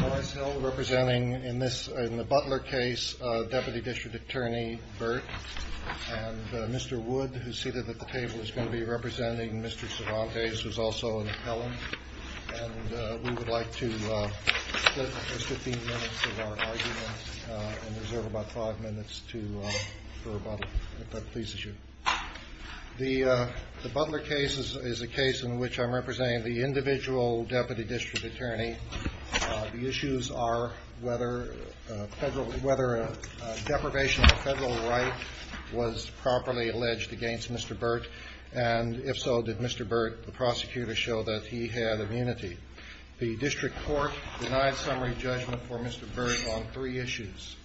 Morris Hill representing, in the Butler case, Deputy District Attorney Burt, and Mr. Wood, who's seated at the table, is going to be representing Mr. Cervantes, who's also an appellant, and we would like to split the 15 minutes of our argument and reserve about five minutes to go about it, if that pleases you. The Butler case is a case in which I'm representing the individual Deputy District Attorney. The issues are whether deprivation of federal rights was properly alleged against Mr. Burt, and if so, did Mr. Burt, the prosecutor, show that he had immunity? The District Court denied summary judgment for Mr. Burt on three issues.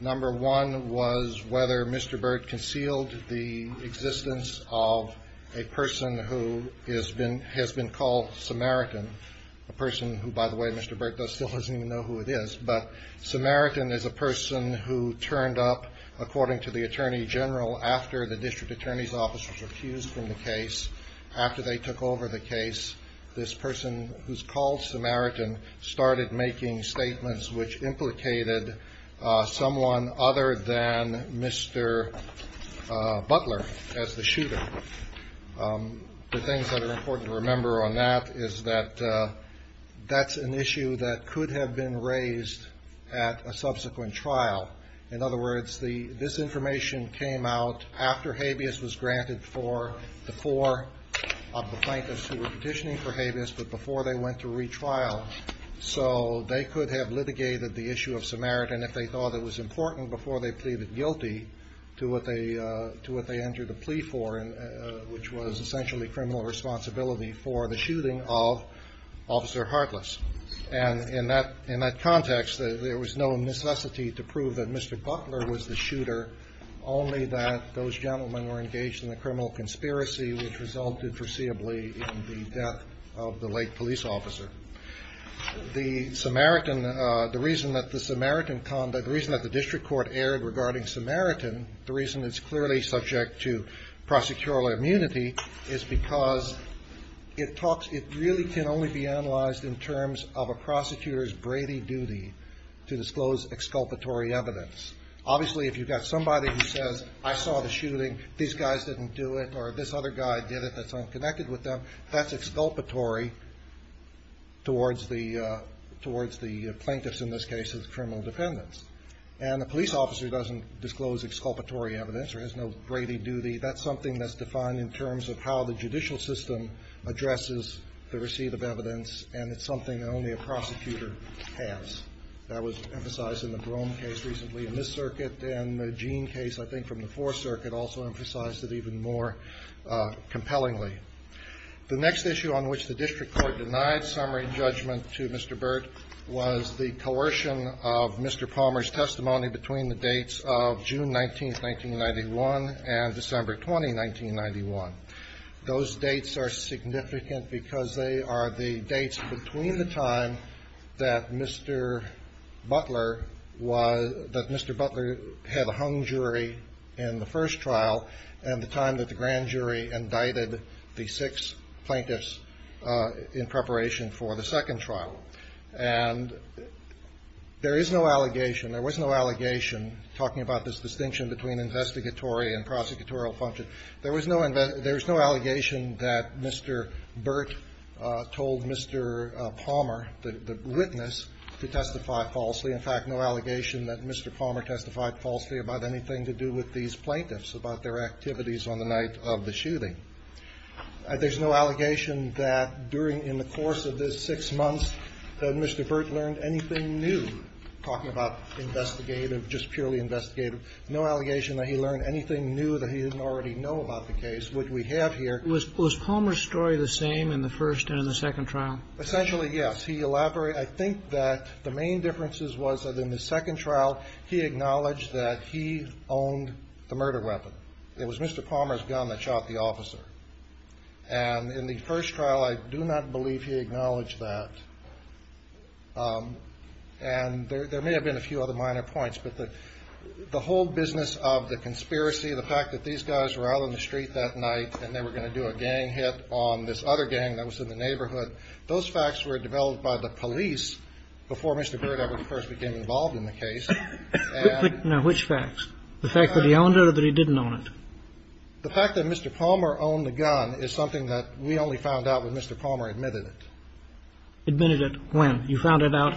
Number one was whether Mr. Burt concealed the existence of a person who has been called Samaritan, a person who, by the way, Mr. Burt still doesn't even know who it is. But Samaritan is a person who turned up, according to the Attorney General, after the District Attorney's Office was accused in the case. After they took over the case, this person who's called Samaritan started making statements which implicated someone other than Mr. Butler as the shooter. The things that are important to remember on that is that that's an issue that could have been raised at a subsequent trial. In other words, this information came out after habeas was granted for the four of the plaintiffs who were petitioning for habeas, but before they went to retrial. So they could have litigated the issue of Samaritan if they thought it was important before they pleaded guilty to what they entered the plea for, which was essentially criminal responsibility for the shooting of Officer Hartless. And in that context, there was no necessity to prove that Mr. Butler was the shooter, only that those gentlemen were engaged in a criminal conspiracy which resulted foreseeably in the death of the late police officer. The reason that the District Court erred regarding Samaritan, the reason it's clearly subject to prosecutorial immunity, is because it really can only be analyzed in terms of a prosecutor's gravy duty to disclose exculpatory evidence. Obviously, if you've got somebody who says, I saw the shooting, these guys didn't do it, or this other guy did it that's unconnected with them, that's exculpatory towards the plaintiffs, in this case, as criminal defendants. And the police officer doesn't disclose exculpatory evidence or has no gravy duty. That's something that's defined in terms of how the judicial system addresses the receipt of evidence, and it's something that only a prosecutor has. That was emphasized in the Broome case recently in this circuit, and the Jean case, I think, from the Fourth Circuit also emphasized it even more compellingly. The next issue on which the District Court denied Samaritan judgment to Mr. Burt was the coercion of Mr. Palmer's testimony between the dates of June 19, 1991 and December 20, 1991. Those dates are significant because they are the dates between the time that Mr. Butler had a hung jury in the first trial and the time that the grand jury indicted the six plaintiffs in preparation for the second trial. And there is no allegation, there was no allegation, talking about this distinction between investigatory and prosecutorial function, there was no allegation that Mr. Burt told Mr. Palmer, the witness, to testify falsely. In fact, no allegation that Mr. Palmer testified falsely about anything to do with these plaintiffs, about their activities on the night of the shooting. There's no allegation that during, in the course of this six months, that Mr. Burt learned anything new, talking about investigative, just purely investigative. No allegation that he learned anything new that he didn't already know about the case, which we have here. Was Palmer's story the same in the first and the second trial? Essentially, yes. He elaborated. I think that the main differences was that in the second trial, he acknowledged that he owned the murder weapon. It was Mr. Palmer's gun that shot the officer. And in the first trial, I do not believe he acknowledged that. And there may have been a few other minor points, but the whole business of the conspiracy, the fact that these guys were out on the street that night and they were going to do a gang hit on this other gang that was in the neighborhood, those facts were developed by the police before Mr. Burt ever first became involved in the case. Now, which facts? The fact that he owned it or that he didn't own it? The fact that Mr. Palmer owned the gun is something that we only found out when Mr. Palmer admitted it. Admitted it when? You found it out?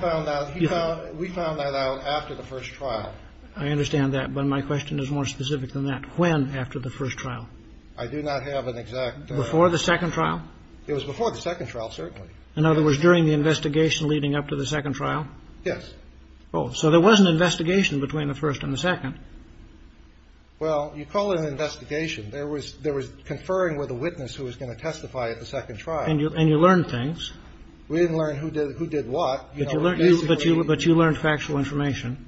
We found that out after the first trial. I understand that, but my question is more specific than that. When after the first trial? I do not have an exact... Before the second trial? It was before the second trial, certainly. In other words, during the investigation leading up to the second trial? Yes. Oh, so there was an investigation between the first and the second? Well, you call it an investigation. There was conferring with a witness who was going to testify at the second trial. And you learned things? We didn't learn who did what. But you learned factual information?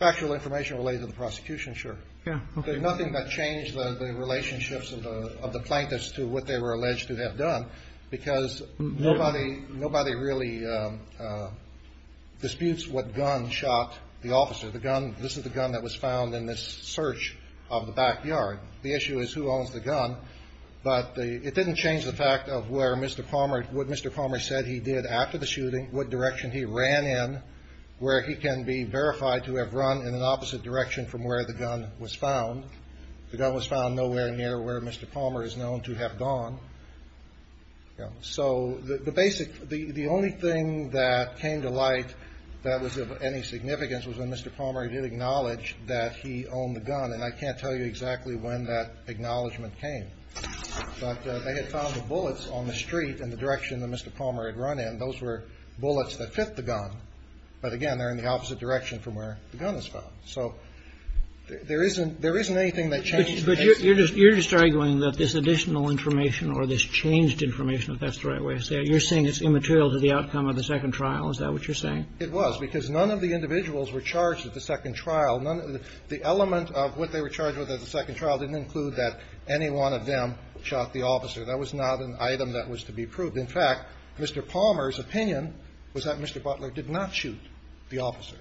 Factual information related to the prosecution, sure. There's nothing that changed the relationships of the plaintiffs to what they were alleged to have done, because nobody really disputes what gun shot the officer. This is the gun that was found in this search of the backyard. The issue is who owns the gun. But it didn't change the fact of what Mr. Palmer said he did after the shooting, what direction he ran in, where he can be verified to have run in an opposite direction from where the gun was found. The gun was found nowhere near where Mr. Palmer is known to have gone. So the only thing that came to light that was of any significance was when Mr. Palmer did acknowledge that he owned the gun. And I can't tell you exactly when that acknowledgement came. But they had found the bullets on the street in the direction that Mr. Palmer had run in. Those were bullets that hit the gun. But, again, they're in the opposite direction from where the gun was found. So there isn't anything that changed. But you're just arguing that this additional information or this changed information, if that's the right way to say it, you're saying it's immaterial to the outcome of the second trial. Is that what you're saying? It was, because none of the individuals were charged at the second trial. The element of what they were charged with at the second trial didn't include that any one of them shot the officer. That was not an item that was to be proved. In fact, Mr. Palmer's opinion was that Mr. Butler did not shoot the officer.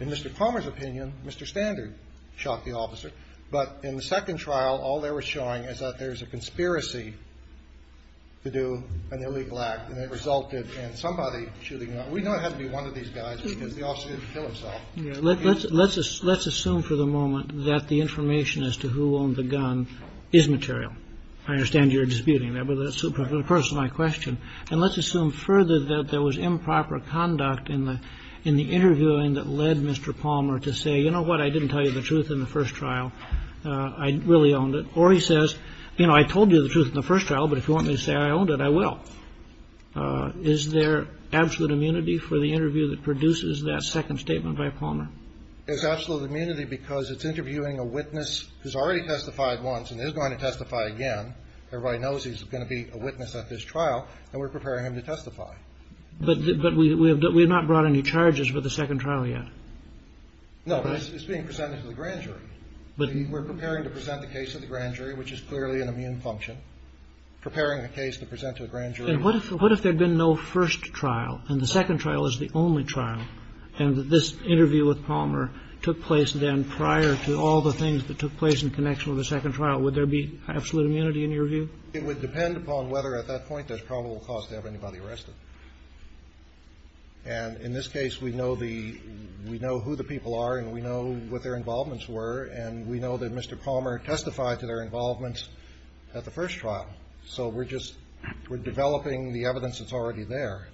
In Mr. Palmer's opinion, Mr. Standard shot the officer. But in the second trial, all they were showing is that there was a conspiracy to do an illegal act. And it resulted in somebody shooting him. We know it had to be one of these guys because the officer didn't kill himself. Let's assume for the moment that the information as to who owned the gun is material. I understand you're disputing that. Of course, it's my question. And let's assume further that there was improper conduct in the interviewing that led Mr. Palmer to say, you know what? I didn't tell you the truth in the first trial. I really owned it. Or he says, you know, I told you the truth in the first trial, but if you want me to say I owned it, I will. Is there absolute immunity for the interview that produces that second statement by Palmer? There's absolute immunity because it's interviewing a witness who's already testified once and is going to testify again. Everybody knows he's going to be a witness at this trial and we're preparing him to testify. But we have not brought any charges for the second trial yet. No, it's being presented to the grand jury. But we're preparing to present the case of the grand jury, which is clearly an immune function. Preparing a case to present to a grand jury. What if there had been no first trial and the second trial is the only trial. And this interview with Palmer took place then prior to all the things that took place in connection with the second trial. Would there be absolute immunity in your view? It would depend upon whether at that point there's probable cause to have anybody arrested. And in this case, we know the we know who the people are and we know what their involvements were. And we know that Mr. Palmer testified to their involvements at the first trial. So we're just we're developing the evidence that's already there.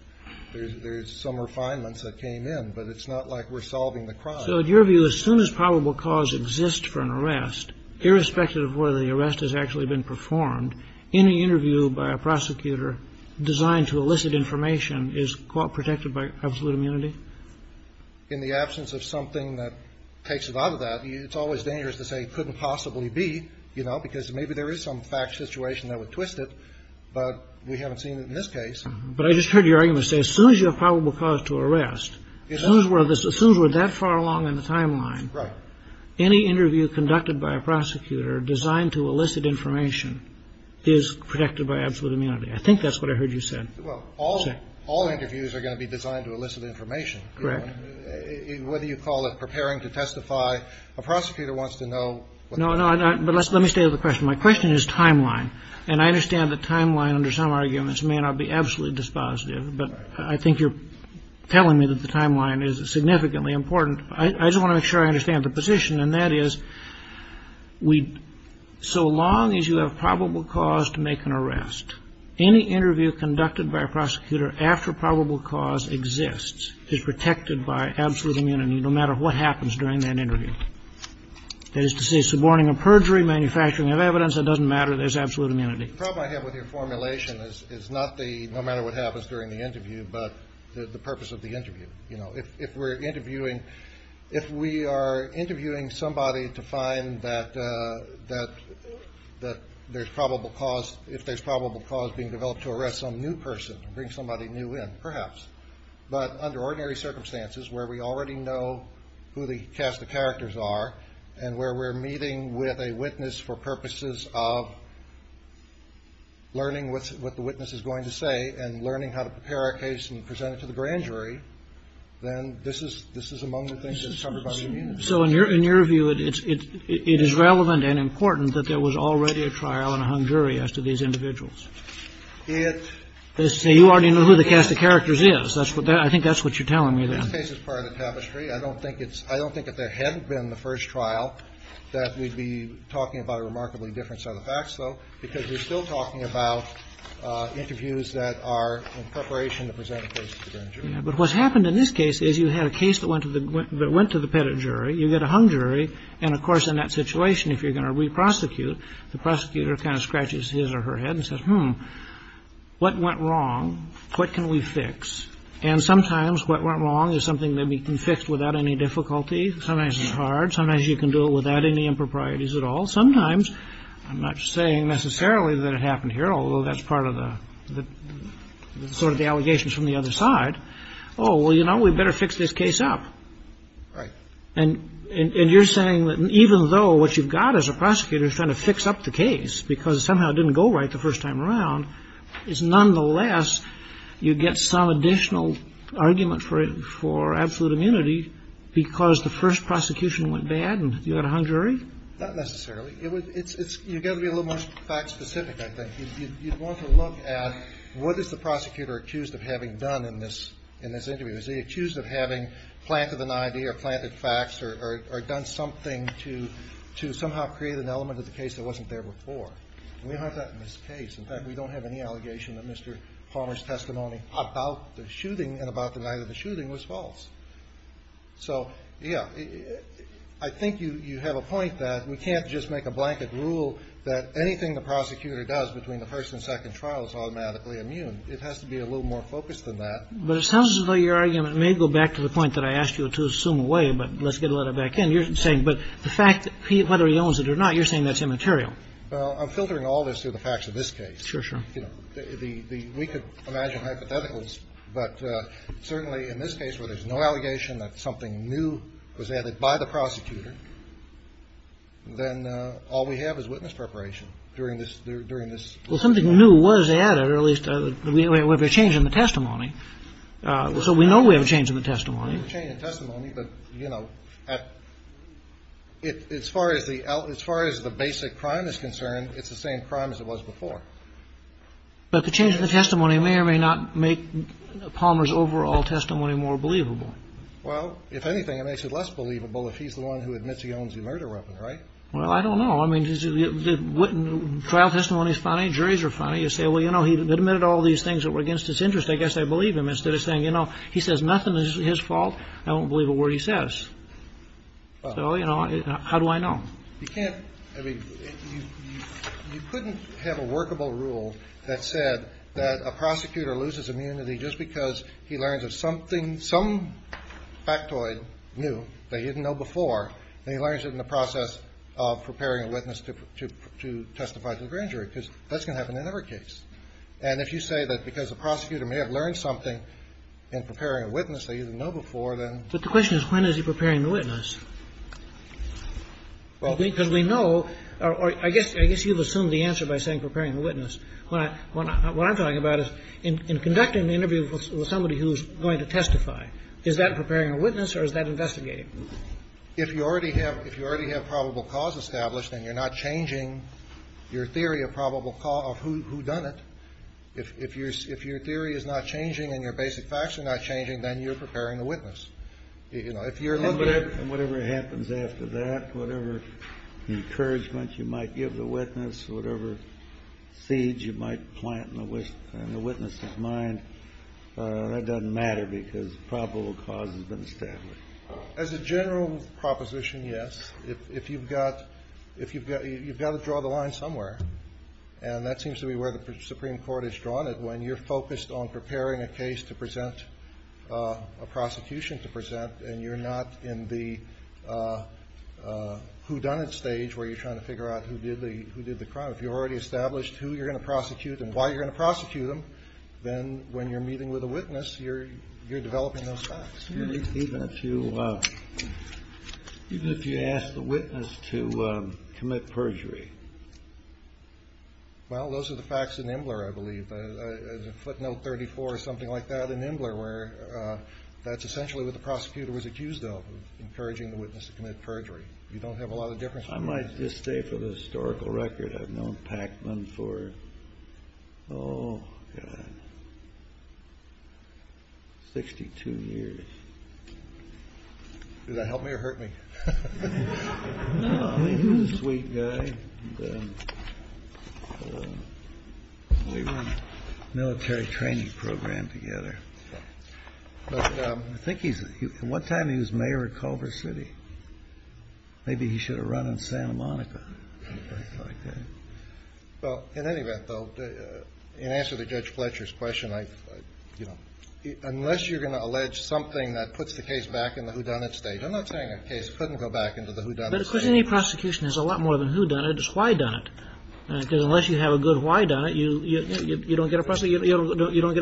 There's some refinements that came in, but it's not like we're solving the crime. So in your view, as soon as probable cause exists for an arrest, irrespective of whether the arrest has actually been performed, any interview by a prosecutor designed to elicit information is protected by absolute immunity. In the absence of something that takes it out of that, it's always dangerous to say it couldn't possibly be, you know, because maybe there is some fact situation that would twist it. But we haven't seen it in this case. But I just heard you say as soon as you have probable cause to arrest, as soon as we're that far along in the timeline, any interview conducted by a prosecutor designed to elicit information is protected by absolute immunity. I think that's what I heard you said. Well, all all interviews are going to be designed to elicit information. Correct. What do you call it? Preparing to testify. A prosecutor wants to know. No, no, no. But let's let me say the question. My question is timeline. And I understand the timeline under some arguments may not be absolutely dispositive. But I think you're telling me that the timeline is significantly important. I just want to make sure I understand the position. And that is we so long as you have probable cause to make an arrest, any interview conducted by a prosecutor after probable cause exists is protected by absolute immunity no matter what happens during an interview. That is to say, it's the warning of perjury, manufacturing of evidence. It doesn't matter. There's absolute immunity. The problem I have with your formulation is not the no matter what happens during the interview, but the purpose of the interview. You know, if we're interviewing, if we are interviewing somebody to find that that that there's probable cause, if there's probable cause being developed to arrest some new person, bring somebody new in, perhaps. But under ordinary circumstances where we already know who the cast of characters are and where we're meeting with a witness for purposes of learning what the witness is going to say and learning how to prepare our case and present it to the grand jury, then this is this is among the things that's covered. So in your in your view, it is relevant and important that there was already a trial and a jury as to these individuals. It is you already know who the cast of characters is. That's what I think. That's what you're telling me that this is part of the tapestry. I don't think it's I don't think that there hadn't been the first trial that we'd be talking about a remarkably different set of facts, though, because we're still talking about interviews that are in preparation to present. But what's happened in this case is you had a case that went to the went to the pedigree. You get a hung jury. And of course, in that situation, if you're going to reprosecute, the prosecutor kind of scratches his or her head and says, hmm, what went wrong? What can we fix? And sometimes what went wrong is something that we can fix without any difficulty. Sometimes it's hard. Sometimes you can do it without any improprieties at all. Sometimes I'm not saying necessarily that it happened here, although that's part of the sort of allegations from the other side. Oh, well, you know, we better fix this case up. Right. And you're saying that even though what you've got as a prosecutor is trying to fix up the case, because somehow it didn't go right the first time around, is nonetheless, you get some additional argument for it, for absolute immunity because the first prosecution went bad and you had a hung jury. Not necessarily. It was it's you've got to be a little more fact specific. I think you want to look at what is the prosecutor accused of having done in this in this interview? Is he accused of having planted an idea or planted facts or done something to to somehow create an element of the case that wasn't there before? In this case, in fact, we don't have any allegation that Mr. Palmer's testimony about the shooting and about the night of the shooting was false. So, yeah, I think you have a point that we can't just make a blanket rule that anything the prosecutor does between the first and second trial is automatically immune. And it has to be a little more focused than that. But it sounds like your argument may go back to the point that I asked you to assume away. But let's get a letter back. And you're saying. But the fact that he literally owns it or not, you're saying that's immaterial. Well, I'm filtering all this through the facts of this case. Sure. Sure. We could imagine hypotheticals. But certainly in this case where there's no allegation that something new was added by the prosecutor. Then all we have is witness preparation during this, during this. Well, something new was added, or at least we were changing the testimony. So we know we have a change in the testimony, a change in testimony. But, you know, as far as the as far as the basic crime is concerned, it's the same crime as it was before. But the change in the testimony may or may not make Palmer's overall testimony more believable. Well, if anything, it makes it less believable if he's the one who admits he owns the murder weapon. Right. Well, I don't know. I mean, the trial testimony is funny. Juries are funny. You say, well, you know, he admitted all these things that were against his interest. I guess I believe him instead of saying, you know, he says nothing is his fault. I don't believe a word he says. So, you know, how do I know? I mean, you couldn't have a workable rule that said that a prosecutor loses immunity just because he learns of something, some factoid new that he didn't know before. And he learns it in the process of preparing a witness to testify to the grand jury, because that's going to happen in every case. And if you say that because the prosecutor may have learned something in preparing a witness they didn't know before, then. But the question is, when is he preparing the witness? We know. I guess I guess you've assumed the answer by saying preparing a witness. What I'm talking about is in conducting an interview with somebody who's going to testify. Is that preparing a witness or is that investigating? If you already have if you already have probable cause established and you're not changing your theory of probable cause, who done it? If you're if your theory is not changing and your basic facts are not changing, then you're preparing a witness. You're looking at whatever happens after that, whatever encouragement you might give the witness, whatever seeds you might plant in the witness's mind. That doesn't matter because probable cause is going to stay as a general proposition. Yes. If you've got if you've got you've got to draw the line somewhere. And that seems to be where the Supreme Court has drawn it. When you're focused on preparing a case to present a prosecution to present and you're not in the who done it stage where you're trying to figure out who did the who did the crime. If you already established who you're going to prosecute and why you're going to prosecute them, then when you're meeting with a witness, you're you're developing those facts. Even if you even if you ask the witness to commit perjury. Well, those are the facts in Imbler, I believe. There's a footnote 34 or something like that in Imbler where that's essentially what the prosecutor was accused of encouraging the witness to commit perjury. You don't have a lot of difference. I might just say for the historical record, I've known Pacman for 62 years. Did that help me or hurt me? He's a sweet guy. Military training program together. I think he's one time he was mayor of Culver City. Maybe he should have run in Santa Monica. Well, in any event, though, in answer to Judge Fletcher's question, unless you're going to allege something that puts the case back in the who done it stage. I'm not saying a case couldn't go back into the who done it stage. But of course, any prosecution is a lot more than who done it, it's why done it. Because unless you have a good why done it, you don't get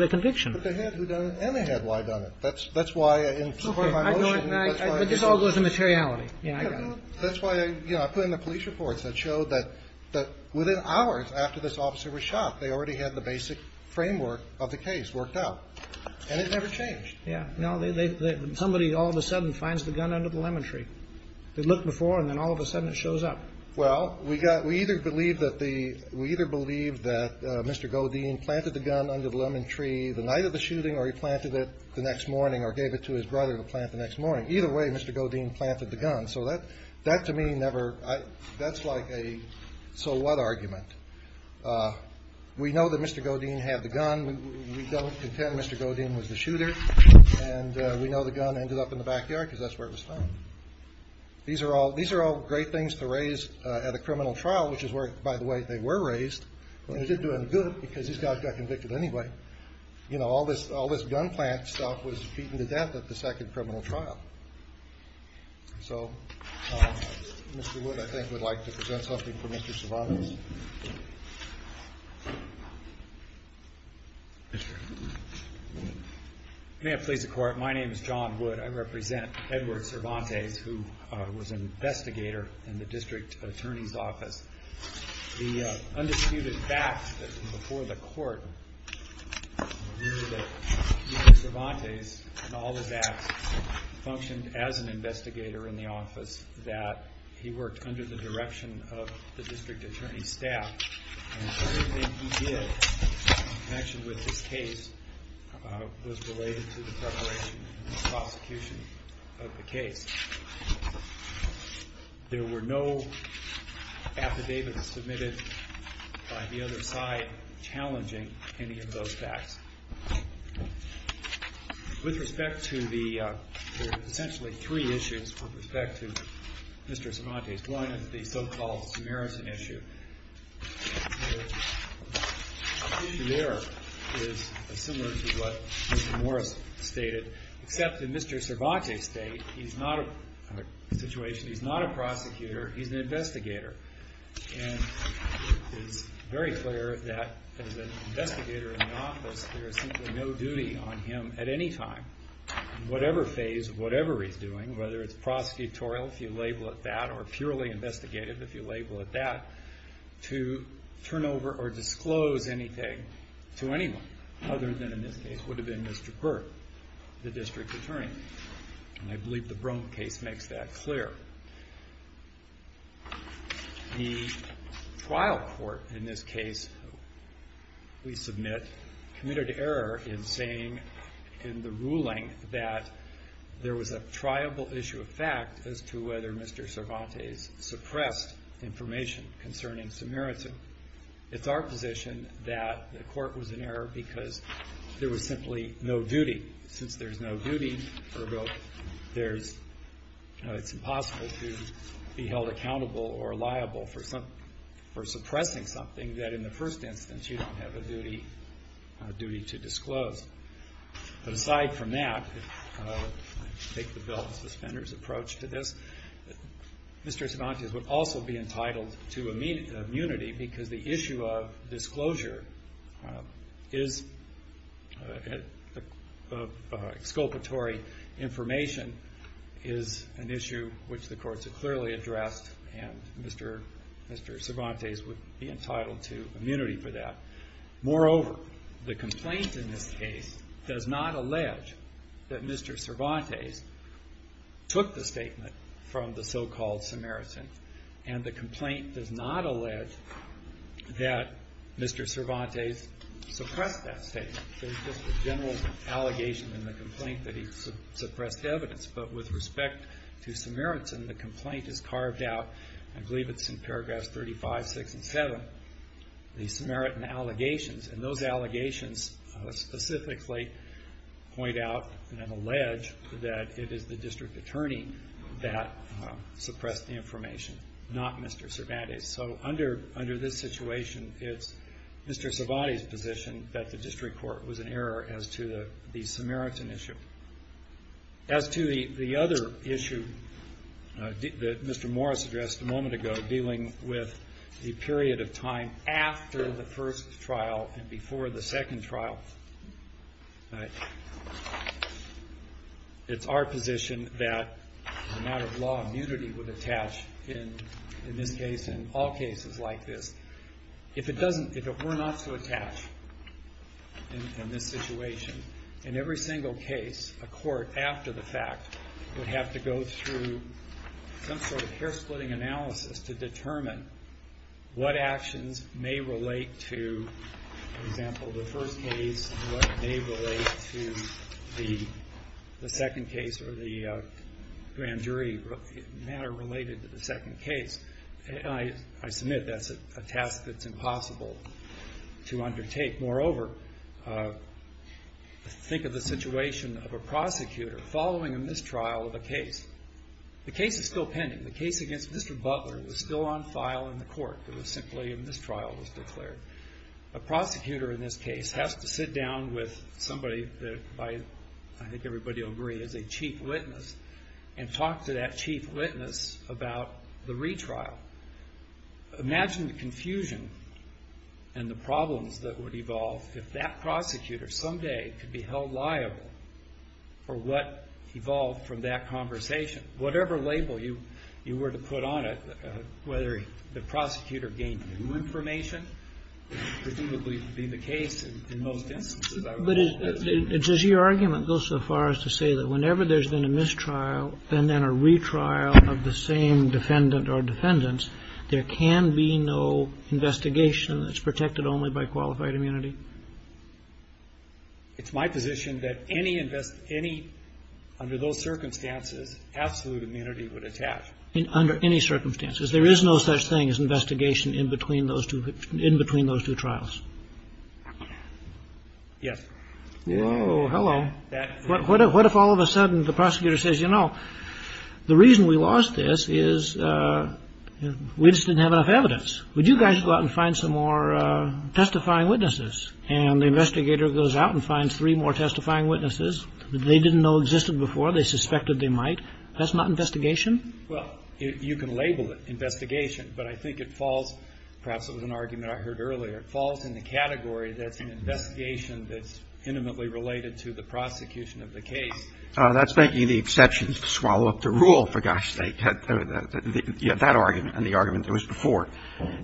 a conviction. But they had who done it and they had why done it. That's why in support of our motion. But this all goes to materiality. That's why I put in the police reports that show that within hours after this officer was shot, they already had the basic framework of the case worked out. And it never changed. Somebody all of a sudden finds the gun under the lemon tree. They look before and then all of a sudden it shows up. Well, we got we either believe that the we either believe that Mr. Godin planted the gun under the lemon tree the night of the shooting or he planted it the next morning or gave it to his brother to plant the next morning. Either way, Mr. Godin planted the gun. So that that to me never. That's like a. So what argument? We know that Mr. Godin had the gun. We don't pretend Mr. Godin was the shooter. And we know the gun ended up in the back yard because that's where it was found. These are all these are all great things to raise at a criminal trial, which is where, by the way, they were raised. And he didn't do it good because he's not convicted anyway. You know, all this all this gun plant stuff was beaten to death at the second criminal trial. So, Mr. Wood, I think we'd like to present something for Mr. Cervantes. May I please the court. My name is John Wood. I represent Edward Cervantes, who was an investigator in the district attorney's office. The undisputed back before the court. All of that functioned as an investigator in the office that he worked under the direction of the district attorney staff. Actually, with the case was related to the prosecution of the case. There were no affidavits submitted by the other side challenging any of those facts. With respect to the essentially three issues of respect to Mr. Cervantes, one is the so-called comparison issue. There is similar to what Mr. Morris stated. In Mr. Cervantes case, he's not a situation. He's not a prosecutor. He's an investigator. And it's very clear that as an investigator in an office, there is no duty on him at any time. Whatever phase, whatever he's doing, whether it's prosecutorial, if you label it that, or purely investigative, if you label it that. To turn over or disclose anything to anyone other than in this case would have been Mr. Burke, the district attorney. And I believe the Brum case makes that clear. The trial court in this case we submit committed error in saying in the ruling that there was a triumphal issue of fact as to whether Mr. Cervantes suppressed information concerning Samaritan. It's our position that the court was in error because there was simply no duty. Since there's no duty, it's impossible to be held accountable or liable for suppressing something that in the first instance you don't have a duty to disclose. Aside from that, I take the bill of suspenders approach to this, Mr. Cervantes would also be entitled to immunity because the issue of disclosure of exculpatory information is an issue which the courts have clearly addressed. And Mr. Cervantes would be entitled to immunity for that. Moreover, the complaint in this case does not allege that Mr. Cervantes took the statement from the so-called Samaritan. And the complaint does not allege that Mr. Cervantes suppressed that statement. It's just a general allegation in the complaint that he suppressed evidence. But with respect to Samaritan, the complaint is carved out, I believe it's in paragraphs 35, 36, and 37, the Samaritan allegations. And those allegations specifically point out and allege that it is the district attorney that suppressed the information, not Mr. Cervantes. So under this situation, it's Mr. Cervantes' position that the district court was in error as to the Samaritan issue. As to the other issue that Mr. Morris addressed a moment ago dealing with the period of time after the first trial and before the second trial, it's our position that the matter of law and unity would attach in all cases like this. If it were not to attach in this situation, in every single case, a court after the fact would have to go through some sort of hair-splitting analysis to determine what actions may relate to, for example, the first case and what may relate to the second case or the grand jury matter related to the second case. And I submit that's a task that's impossible to undertake. Moreover, think of the situation of a prosecutor following a mistrial of a case. The case is still pending. The case against Mr. Butler was still on file in the court. It was simply a mistrial was declared. A prosecutor in this case has to sit down with somebody that I think everybody will agree is a chief witness and talk to that chief witness about the mistrial. Imagine the confusion and the problems that would evolve if that prosecutor someday could be held liable for what evolved from that conversation. Whatever label you were to put on it, whether the prosecutor gained new information, presumably would be the case in most instances. But does your argument go so far as to say that whenever there's been a mistrial and then a retrial of the same defendant or defendants, there can be no investigation that's protected only by qualified immunity? It's my position that any, under those circumstances, absolute immunity would attach. Under any circumstances. There is no such thing as investigation in between those two trials. Yes. Oh, hello. What if all of a sudden the prosecutor says, you know, the reason we lost this is we just didn't have enough evidence. Would you guys go out and find some more testifying witnesses? And the investigator goes out and finds three more testifying witnesses that they didn't know existed before. They suspected they might. That's not investigation. Well, you can label it investigation. But I think it falls, perhaps it was an argument I heard earlier, it falls in the category that's an investigation that's intimately related to the prosecution of the case. That's making the exception to swallow up the rule, for gosh sake, that argument and the argument that was before.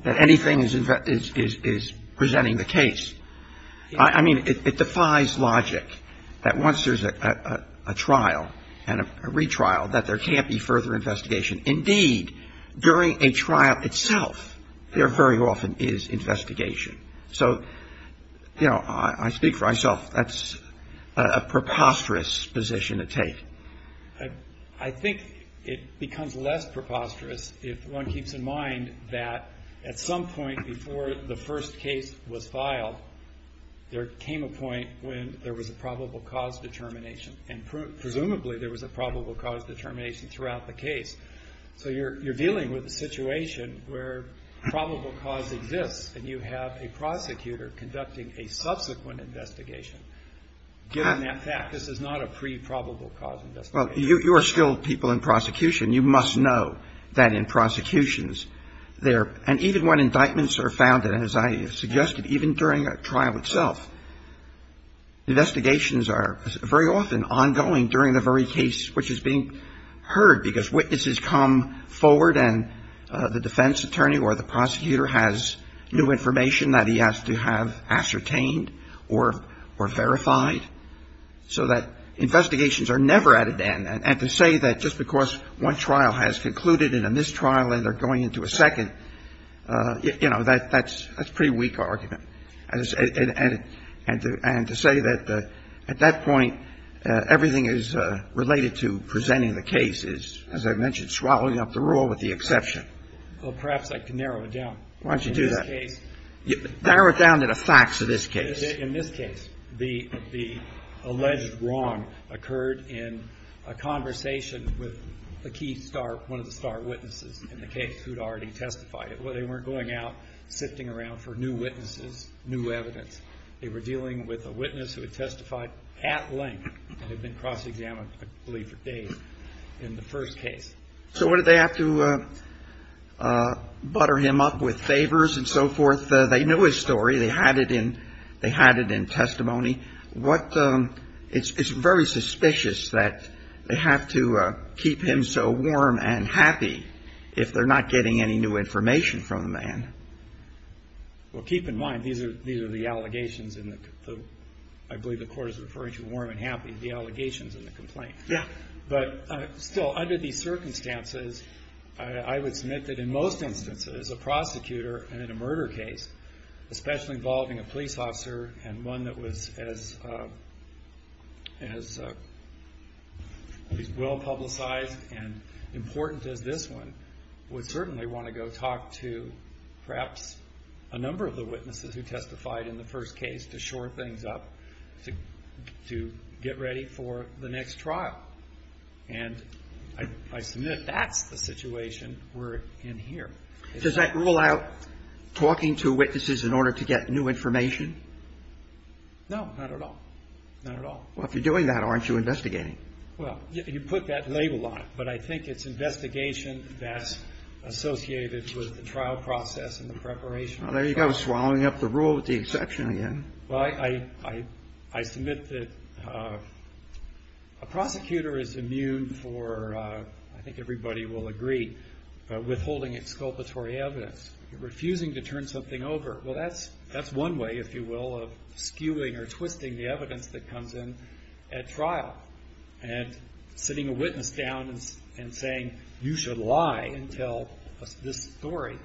That anything is presenting the case. I mean, it defies logic that once there's a trial and a retrial that there can't be further investigation. Indeed, during a trial itself, there very often is investigation. So, you know, I speak for myself. That's a preposterous position to take. I think it becomes less preposterous if one keeps in mind that at some point before the first case was filed, there came a point when there was a probable cause determination. And presumably there was a probable cause determination throughout the case. So, you're dealing with a situation where probable cause exists and you have a prosecutor conducting a subsequent investigation. Given that fact, this is not a pre-probable cause investigation. Well, you're skilled people in prosecution. You must know that in prosecutions there, and even when indictments are found, as I suggested, even during a trial itself, investigations are very often ongoing during the very case which is being heard because witnesses come forward and the defense attorney or the prosecutor has new information that he has to have ascertained or verified. So that investigations are never at an end. And to say that just because one trial has concluded in a mistrial and they're going into a second, you know, that's a pretty weak argument. And to say that at that point everything is related to presenting the case is, as I mentioned, swallowing up the rule with the exception. Well, perhaps I can narrow it down. Why don't you do that? In this case. Narrow it down to the facts of this case. In this case, the alleged wrong occurred in a conversation with a key star, one of the star witnesses in the case who had already testified. Well, they weren't going out, sifting around for new witnesses, new evidence. They were dealing with a witness who had testified at length and had been cross-examined for days in the first case. So what did they have to butter him up with favors and so forth? They knew his story. They had it in testimony. It's very suspicious that they have to keep him so warm and happy if they're not getting any new information from the man. Well, keep in mind, these are the allegations in the, I believe the court is referring to warm and happy, the allegations in the complaint. Yeah. But still, under these circumstances, I would submit that in most instances, a prosecutor in a murder case, especially involving a police officer and one that was as well-publicized and important as this one, would certainly want to go talk to perhaps a number of the witnesses who testified in the first case to shore things up, to get ready for the next trial. And I submit that's the situation we're in here. Does that rule out talking to witnesses in order to get new information? No, not at all. Not at all. Well, if you're doing that, aren't you investigating? Well, you put that label on it, but I think it's investigation that's associated with the trial process and the preparation. There you go, swallowing up the rule with the exception again. Well, I submit that a prosecutor is immune for, I think everybody will agree, withholding exculpatory evidence, refusing to turn something over. Well, that's one way, if you will, of skewing or twisting the evidence that comes in at trial. And sitting a witness down and saying you should lie and tell this story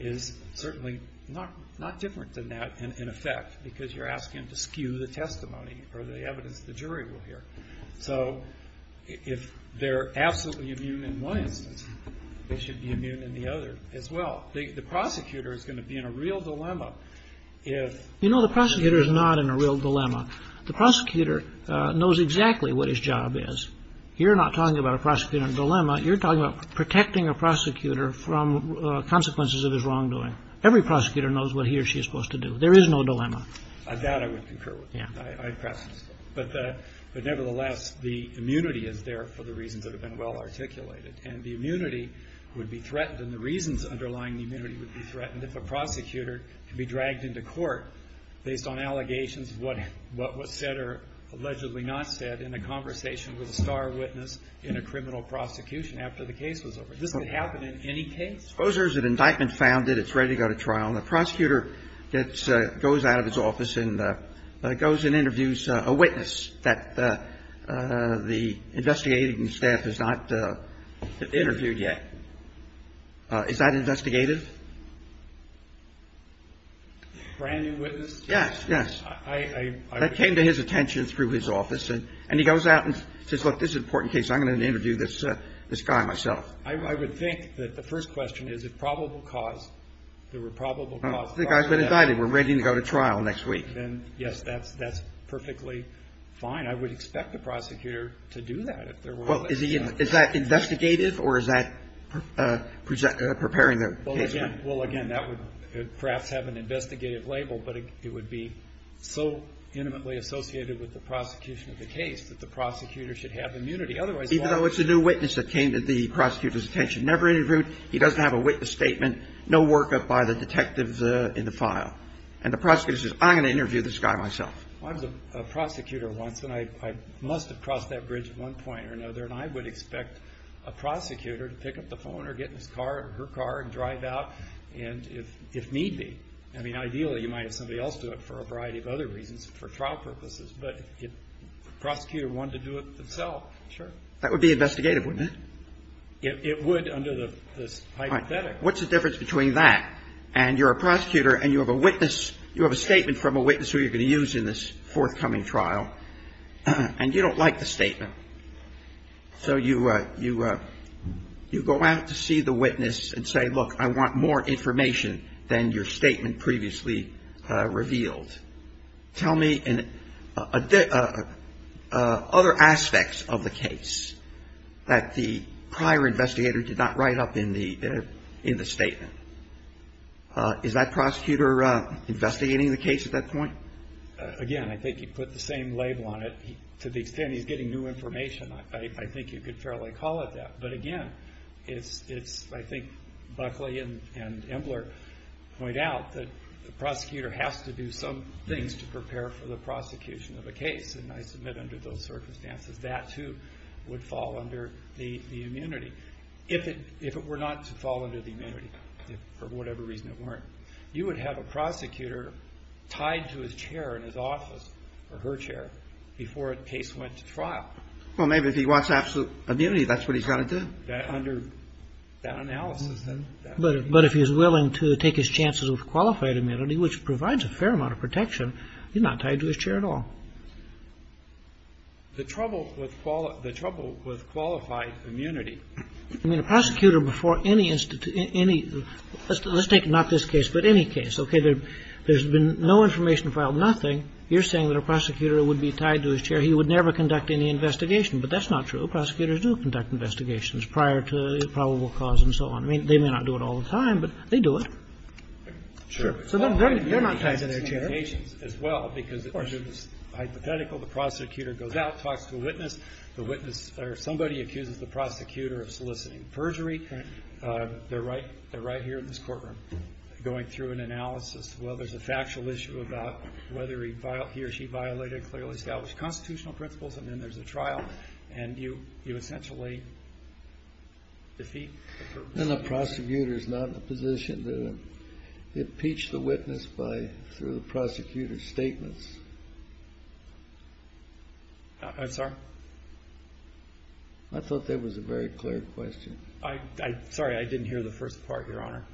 is certainly not different than that, in effect, because you're asking to skew the testimony or the evidence the jury will hear. So if they're absolutely immune in one instance, they should be immune in the other as well. The prosecutor is going to be in a real dilemma if... You know, the prosecutor is not in a real dilemma. The prosecutor knows exactly what his job is. You're not talking about a prosecutor in a dilemma. You're talking about protecting a prosecutor from consequences of his wrongdoing. Every prosecutor knows what he or she is supposed to do. There is no dilemma. That I would concur with. But nevertheless, the immunity is there for the reasons that have been well articulated. And the immunity would be threatened. And the reasons underlying the immunity would be threatened if a prosecutor could be dragged into court based on allegations of what was said or allegedly not said in a conversation with a star witness in a criminal prosecution after the case was over. This could happen in any case. Suppose there's an indictment found that it's ready to go to trial and the prosecutor goes out of his office and goes and interviews a witness that the investigating staff has not interviewed yet. Is that investigative? A brand new witness? Yes, yes. That came to his attention through his office. And he goes out and says, look, this is an important case. I'm going to interview this guy myself. I would think that the first question is a probable cause. There were probable causes. The guy's been indicted. We're ready to go to trial next week. Then, yes, that's perfectly fine. I would expect the prosecutor to do that. Is that investigative or is that preparing a case? Well, again, that would perhaps have an investigative label. But it would be so intimately associated with the prosecution of the case that the prosecutor should have immunity. Even though it's a new witness that came to the prosecutor's attention. Never interviewed. He doesn't have a witness statement. No workup by the detectives in the file. And the prosecutor says, I'm going to interview this guy myself. I was a prosecutor once. And I must have crossed that bridge at one point or another. And I would expect a prosecutor to pick up the phone or get in his car or her car and drive out if need be. I mean, ideally, you might have somebody else do it for a variety of other reasons, for trial purposes. But the prosecutor wanted to do it himself. Sure. That would be investigative, wouldn't it? It would under the hypothetical. All right. What's the difference between that? If you're a prosecutor and you have a witness, you have a statement from a witness who you're going to use in this forthcoming trial. And you don't like the statement. So you go out to see the witness and say, look, I want more information than your statement previously revealed. Tell me other aspects of the case that the prior investigator did not write up in the statement. Is that prosecutor investigating the case at that point? Again, I think you put the same label on it. To the extent he's getting new information, I think you could fairly call it that. But again, I think Buckley and Embler point out that the prosecutor has to do some things to prepare for the prosecution of a case. And I submit under those circumstances, that's who would fall under the immunity. If it were not to fall under the immunity, for whatever reason it weren't, you would have a prosecutor tied to his chair in his office or her chair before a case went to trial. Well, maybe if he wants absolute immunity, that's what he's got to do. Under that analysis. But if he's willing to take his chances with qualified immunity, which provides a fair amount of protection, he's not tied to his chair at all. The trouble with qualified immunity. I mean, a prosecutor before any institution, any, let's take not this case, but any case. Okay. There's been no information filed, nothing. You're saying that a prosecutor would be tied to his chair. He would never conduct any investigation. But that's not true. Prosecutors do conduct investigations prior to probable cause and so on. I mean, they may not do it all the time, but they do it. Sure. So they're not tied to their chair. Well, because it's hypothetical. The prosecutor goes out, talks to a witness. The witness or somebody accuses the prosecutor of soliciting perjury. They're right here in this courtroom going through an analysis. Well, there's a factual issue about whether he or she violated clearly established constitutional principles. And then there's a trial. And you essentially defeat. And the prosecutor's not in a position to impeach the witness through the prosecutor's statements. I'm sorry? I thought that was a very clear question. Sorry, I didn't hear the first part, Your Honor.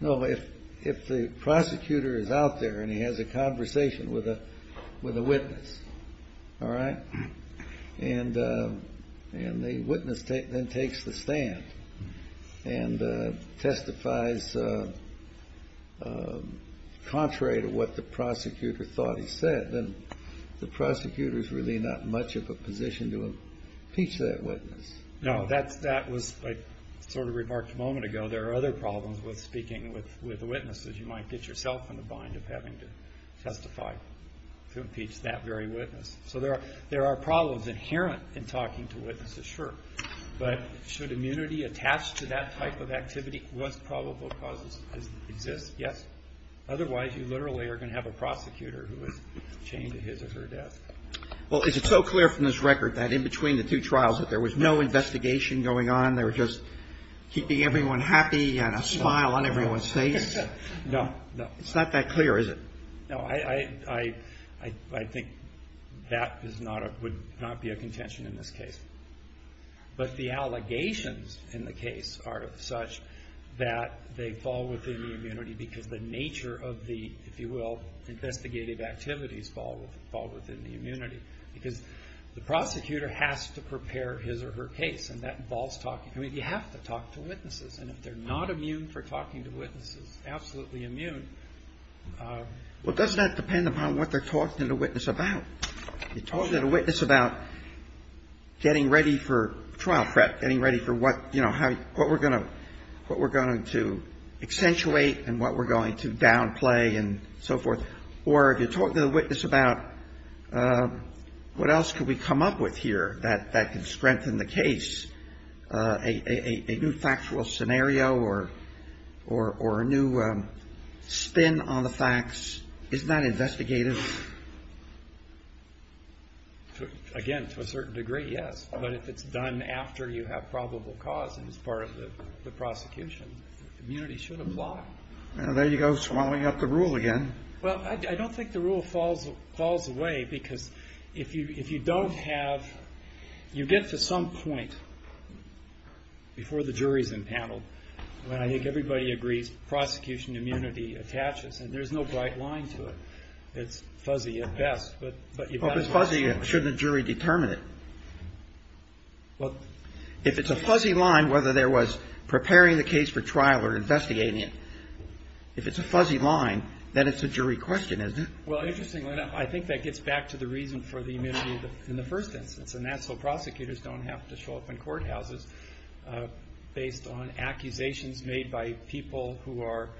No, if the prosecutor is out there and he has a conversation with a witness, all right, and the witness then takes the stand and testifies contrary to what the prosecutor thought he said, then the prosecutor's really not much of a position to impeach that witness. No, that was sort of remarked a moment ago. There are other problems with speaking with witnesses. You might get yourself in the bind of having to testify to impeach that very witness. So there are problems inherent in talking to witnesses, sure. But should immunity attach to that type of activity? Most probably it doesn't exist, yes. Otherwise, you literally are going to have a prosecutor who would change his or her desk. Well, it's so clear from this record that in between the two trials that there was no investigation going on. They were just keeping everyone happy and a smile on everyone's face. No, it's not that clear, is it? No, I think that would not be a contention in this case. But the allegations in the case are such that they fall within the immunity because the nature of the, if you will, investigative activities fall within the immunity. The prosecutor has to prepare his or her case. And that involves talking. I mean, you have to talk to witnesses. And if they're not immune for talking to witnesses, absolutely immune. Well, doesn't that depend upon what they're talking to the witness about? You're talking to the witness about getting ready for trial prep, getting ready for what we're going to accentuate and what we're going to downplay and so forth. Or you're talking to the witness about what else could we come up with here that could strengthen the case, a new factual scenario or a new spin on the facts. Isn't that investigative? Again, to a certain degree, yes. But if it's done after you have probable cause and as part of the prosecution, the immunity should apply. Well, there you go swallowing up the rule again. Well, I don't think the rule falls away because if you don't have, you get to some point before the jury is entangled when I think everybody agrees prosecution immunity attaches. And there's no bright line to it. It's fuzzy at best. Well, if it's fuzzy, shouldn't a jury determine it? Well, if it's a fuzzy line, whether there was preparing the case for trial or investigating it, if it's a fuzzy line, then it's a jury question, isn't it? Well, interestingly enough, I think that gets back to the reason for the immunity in the first instance, and that's so prosecutors don't have to show up in courthouses based on accusations made by people who are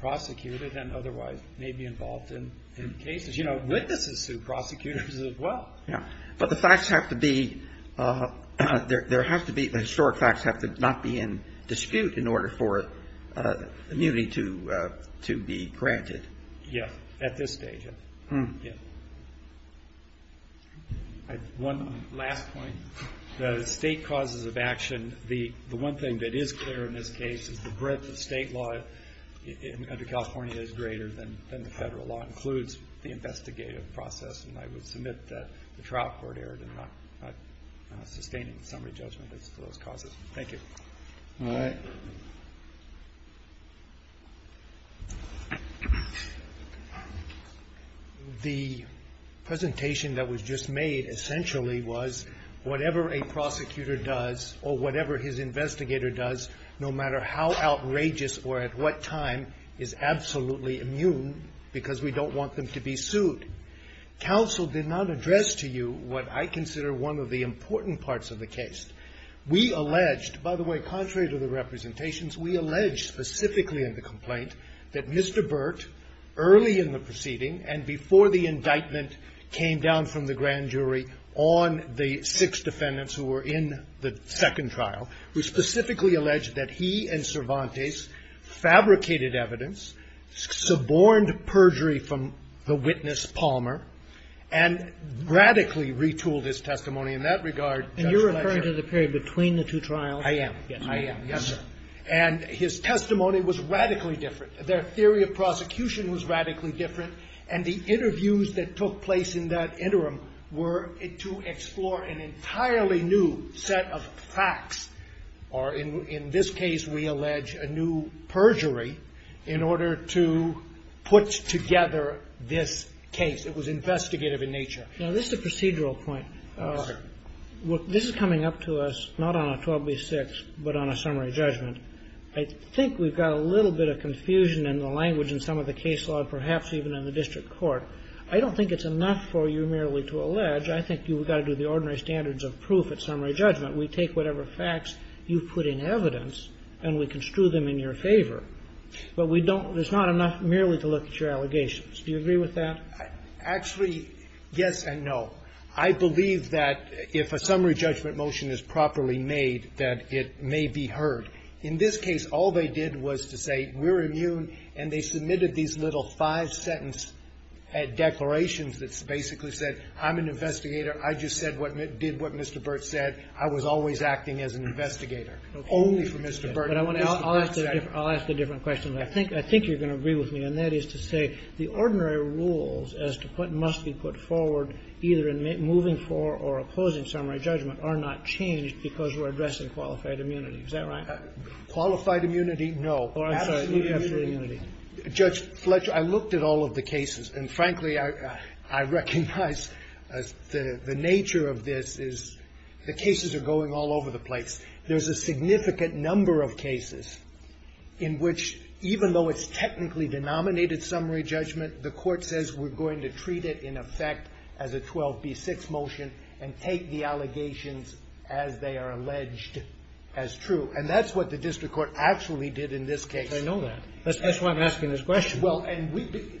prosecutors and otherwise may be involved in cases, you know, witnesses to prosecutors as well. Yeah, but the facts have to be, there has to be, the historic facts have to not be in dispute in order for immunity to be granted. Yeah, at this stage, yeah. One last point. The state causes of action, the one thing that is clear in this case is the breadth of state law in the country of California is greater than the federal law, and that includes the investigative process, and I would submit that the trial court error did not sustain summary judgment of those causes. Thank you. All right. The presentation that was just made essentially was whatever a prosecutor does or whatever his investigator does, no matter how outrageous or at what time, is absolutely immune because we don't want them to be sued. Counsel did not address to you what I consider one of the important parts of the case. We alleged, by the way, contrary to the representations, we alleged specifically in the complaint that Mr. Burt, early in the proceeding and before the indictment came down from the grand jury on the six defendants who were in the second trial, we specifically alleged that he and Cervantes fabricated evidence, suborned perjury from the witness Palmer, and radically retooled his testimony in that regard. And you're referring to the period between the two trials? I am. Yes, sir. And his testimony was radically different. Their theory of prosecution was radically different, and the interviews that took place in that interim were to explore an entirely new set of facts, or in this case we allege a new perjury, in order to put together this case. It was investigative in nature. This is a procedural point. This is coming up to us not on a 12B6, but on a summary judgment. I think we've got a little bit of confusion in the language in some of the case law, perhaps even in the district court. I don't think it's enough for you merely to allege. I think you've got to do the ordinary standards of proof at summary judgment. We take whatever facts you put in evidence, and we construe them in your favor. But we don't, there's not enough merely to look at your allegations. Do you agree with that? Actually, yes and no. I believe that if a summary judgment motion is properly made, that it may be heard. In this case, all they did was to say, we're immune, and they submitted these little five-sentence declarations that basically said, I'm an investigator. I just did what Mr. Burt said. I was always acting as an investigator, only for Mr. Burt. I'll ask a different question. I think you're going to agree with me, and that is to say, the ordinary rules as to what must be put forward, either in moving for or opposing summary judgment, are not changed because we're addressing qualified immunity. Is that right? Qualified immunity, no. Or, I'm sorry, judicial immunity. Judge Fletcher, I looked at all of the cases, and frankly, I recognize the nature of this is the cases are going all over the place. There's a significant number of cases in which, even though it's technically denominated summary judgment, the court says we're going to treat it in effect as a 12B6 motion and take the allegations as they are alleged as true. And that's what the district court actually did in this case. I know that. That's why I'm asking this question.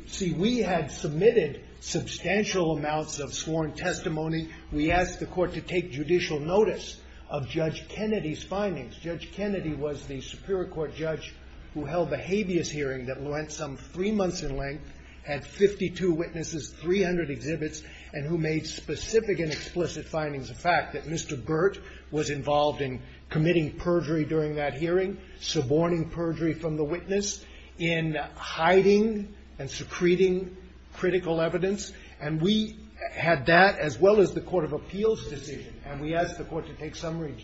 See, we had submitted substantial amounts of sworn testimony. We asked the court to take judicial notice of Judge Kennedy's findings. Judge Kennedy was the Superior Court judge who held a habeas hearing that went some three months in length, had 52 witnesses, 300 exhibits, and who made specific and explicit findings. The fact that Mr. Burt was involved in committing perjury during that hearing, suborning perjury from the witness, in hiding and secreting critical evidence. And we had that as well as the Court of Appeals decision. And we asked the court to take some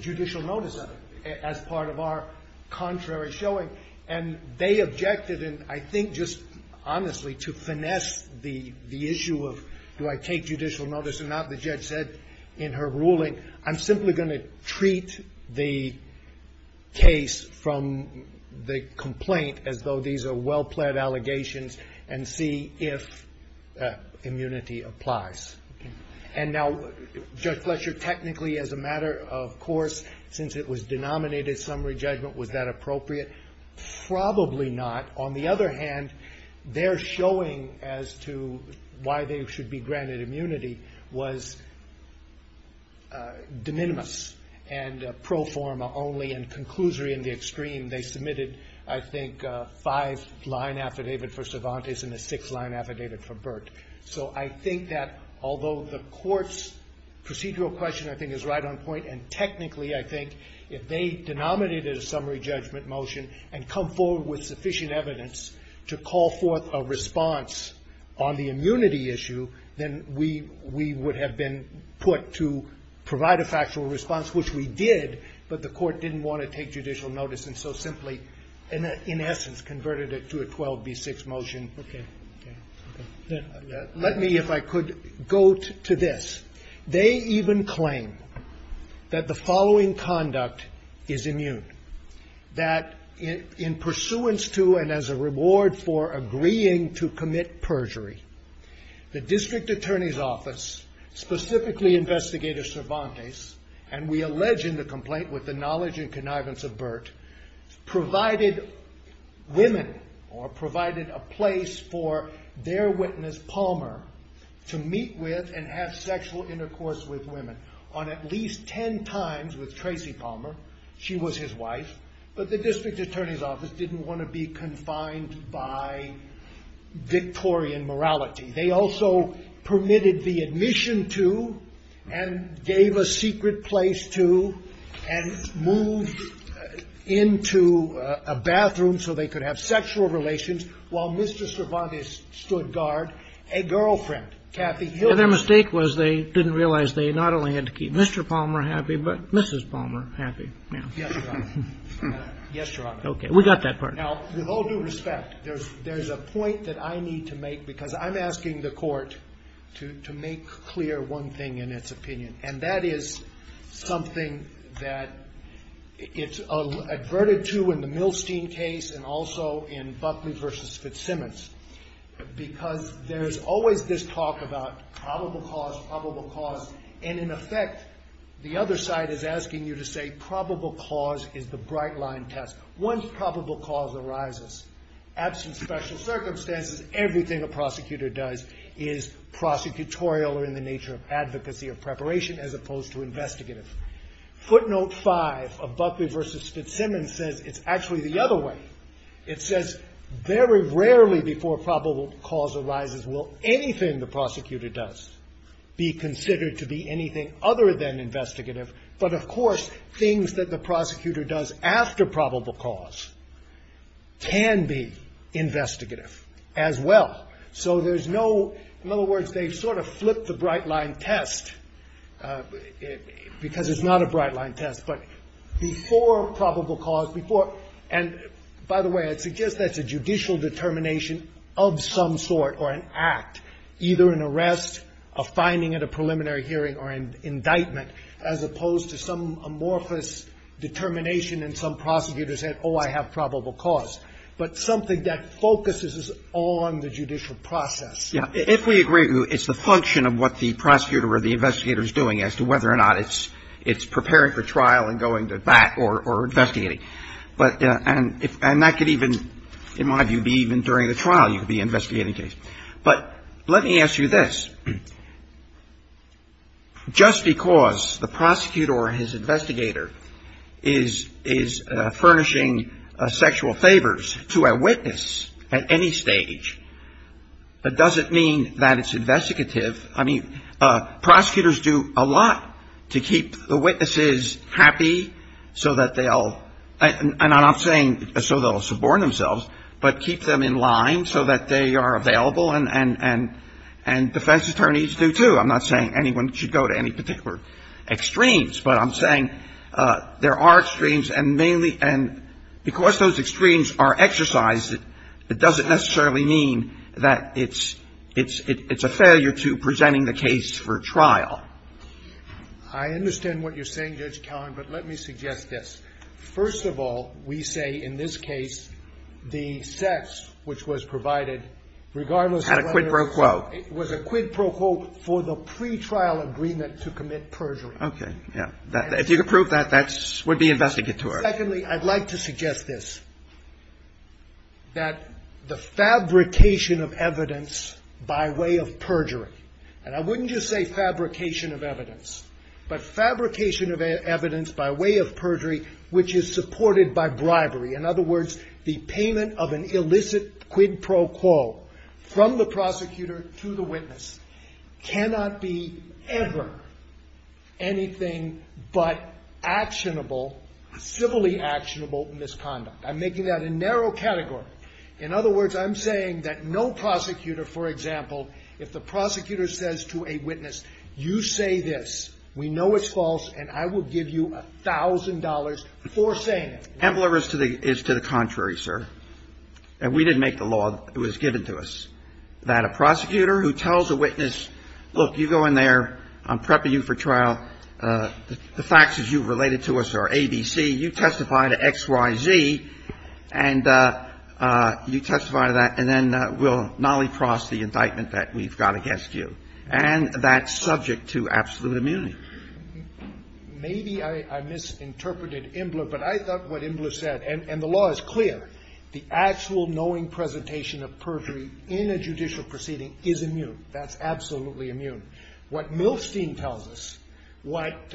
judicial notice of it as part of our contrary showing. And they objected. And I think, just honestly, to finesse the issue of do I take judicial notice or not, the judge said in her ruling, I'm simply going to treat the case from the complaint as though these are well-pled allegations and see if immunity applies. And now, Judge Fletcher, technically, as a matter of course, since it was denominated summary judgment, was that appropriate? Probably not. On the other hand, their showing as to why they should be granted immunity was de minimis and pro forma only and conclusory in the extreme. They submitted, I think, a five-line affidavit for Cervantes and a six-line affidavit for Burt. So I think that although the court's procedural question, I think, is right on point, and technically, I think, if they denominated a summary judgment motion and come forward with sufficient evidence to call forth a response on the immunity issue, then we would have been put to provide a factual response, which we did, but the court didn't want to take judicial notice and so simply, in essence, converted it to a 12B6 motion. Let me, if I could, go to this. They even claim that the following conduct is immune, that in pursuance to and as a reward for agreeing to commit perjury, the district attorney's office, specifically investigator Cervantes, and we allege in the complaint with the knowledge and connivance of Burt, provided women or provided a place for their witness, Palmer, to meet with and have sexual intercourse with women on at least ten times with Tracy Palmer. She was his wife, but the district attorney's office didn't want to be confined by Victorian morality. They also permitted the admission to and gave a secret place to and moved into a bathroom so they could have sexual relations while Mr. Cervantes stood guard, a girlfriend, Kathy Hill. And their mistake was they didn't realize they not only had to keep Mr. Palmer happy, but Mrs. Palmer happy. Yes, Your Honor. Yes, Your Honor. Okay, we got that part. Now, with all due respect, there's a point that I need to make because I'm asking the court to make clear one thing in its opinion. And that is something that it's averted to in the Milstein case and also in Buckley v. Fitzsimmons because there's always this talk about probable cause, probable cause, and in effect, the other side is asking you to say probable cause is the bright line test. Once probable cause arises, absent special circumstances, everything a prosecutor does is prosecutorial or in the nature of advocacy or preparation as opposed to investigative. Footnote five of Buckley v. Fitzsimmons says it's actually the other way. It says very rarely before probable cause arises will anything the prosecutor does be considered to be anything other than investigative. But of course, things that the prosecutor does after probable cause can be investigative as well. So there's no, in other words, they sort of flip the bright line test because it's not a bright line test. But before probable cause, before, and by the way, I suggest that's a judicial determination of some sort or an act. Either an arrest, a finding at a preliminary hearing, or an indictment as opposed to some amorphous determination and some prosecutor saying, oh, I have probable cause. But something that focuses on the judicial process. If we agree it's the function of what the prosecutor or the investigator is doing as to whether or not it's preparing for trial and going to bat or investigating. And that could even, in my view, be even during the trial you could be investigating a case. But let me ask you this. Just because the prosecutor or his investigator is furnishing sexual favors to a witness at any stage doesn't mean that it's investigative. I mean, prosecutors do a lot to keep the witnesses happy so that they'll, and I'm not saying so they'll suborn themselves, but keep them in line so that they are available. And defense attorneys do too. I'm not saying anyone should go to any particular extremes. But I'm saying there are extremes and mainly, and because those extremes are exercised, it doesn't necessarily mean that it's a failure to presenting the case for trial. I understand what you're saying, Judge Cahn, but let me suggest this. First of all, we say in this case the sex which was provided, regardless of whether it was a quid pro quo for the pretrial agreement to commit perjury. Okay, yeah. If you could prove that, that would be investigative. Secondly, I'd like to suggest this. That the fabrication of evidence by way of perjury, and I wouldn't just say fabrication of evidence, but fabrication of evidence by way of perjury which is supported by bribery. In other words, the payment of an illicit quid pro quo from the prosecutor to the witness cannot be ever anything but actionable, civilly actionable misconduct. I'm making that a narrow category. In other words, I'm saying that no prosecutor, for example, if the prosecutor says to a witness, you say this, we know it's false, and I will give you $1,000 for saying it. Embler is to the contrary, sir. And we didn't make the law, it was given to us. That a prosecutor who tells a witness, look, you go in there, I'm prepping you for trial, the facts as you related to us are ABC, you testify to XYZ, and you testify to that, and then we'll nolly-cross the indictment that we've got against you. And that's subject to absolute immunity. Maybe I misinterpreted Embler, but I thought what Embler said, and the law is clear, the actual knowing presentation of perjury in a judicial proceeding is immune. That's absolutely immune. What Milstein tells us, what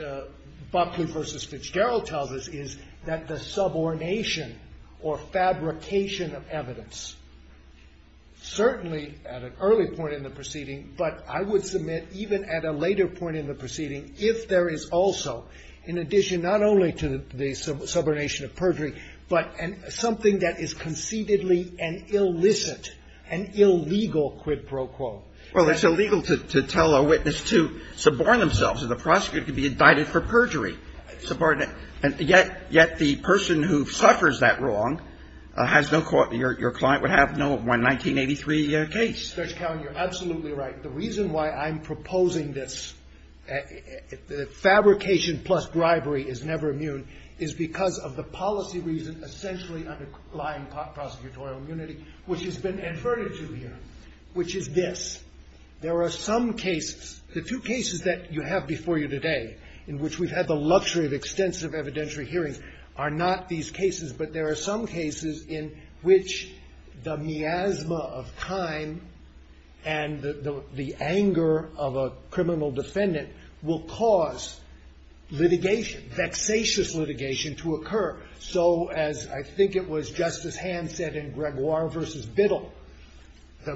Buckley versus Fitzgerald tells us, is that the subordination or fabrication of evidence, certainly at an early point in the proceeding, but I would submit even at a later point in the proceeding, if there is also, in addition not only to the subordination of perjury, but something that is conceitedly an illicit, an illegal quid pro quo. Well, it's illegal to tell a witness to suborn themselves, and the prosecutor could be indicted for perjury. Yet the person who suffers that wrong has no, your client would have no 1983 case. Judge Cowen, you're absolutely right. The reason why I'm proposing this, fabrication plus bribery is never immune, is because of the policy reason essentially underlying prosecutorial immunity, which has been adverted to here, which is this. There are some cases, the two cases that you have before you today, in which we've had the luxury of extensive evidentiary hearings, are not these cases, but there are some cases in which the miasma of time and the anger of a criminal defendant will cause litigation, vexatious litigation, to occur. So as I think it was Justice Hand said in Gregoire versus Biddle, the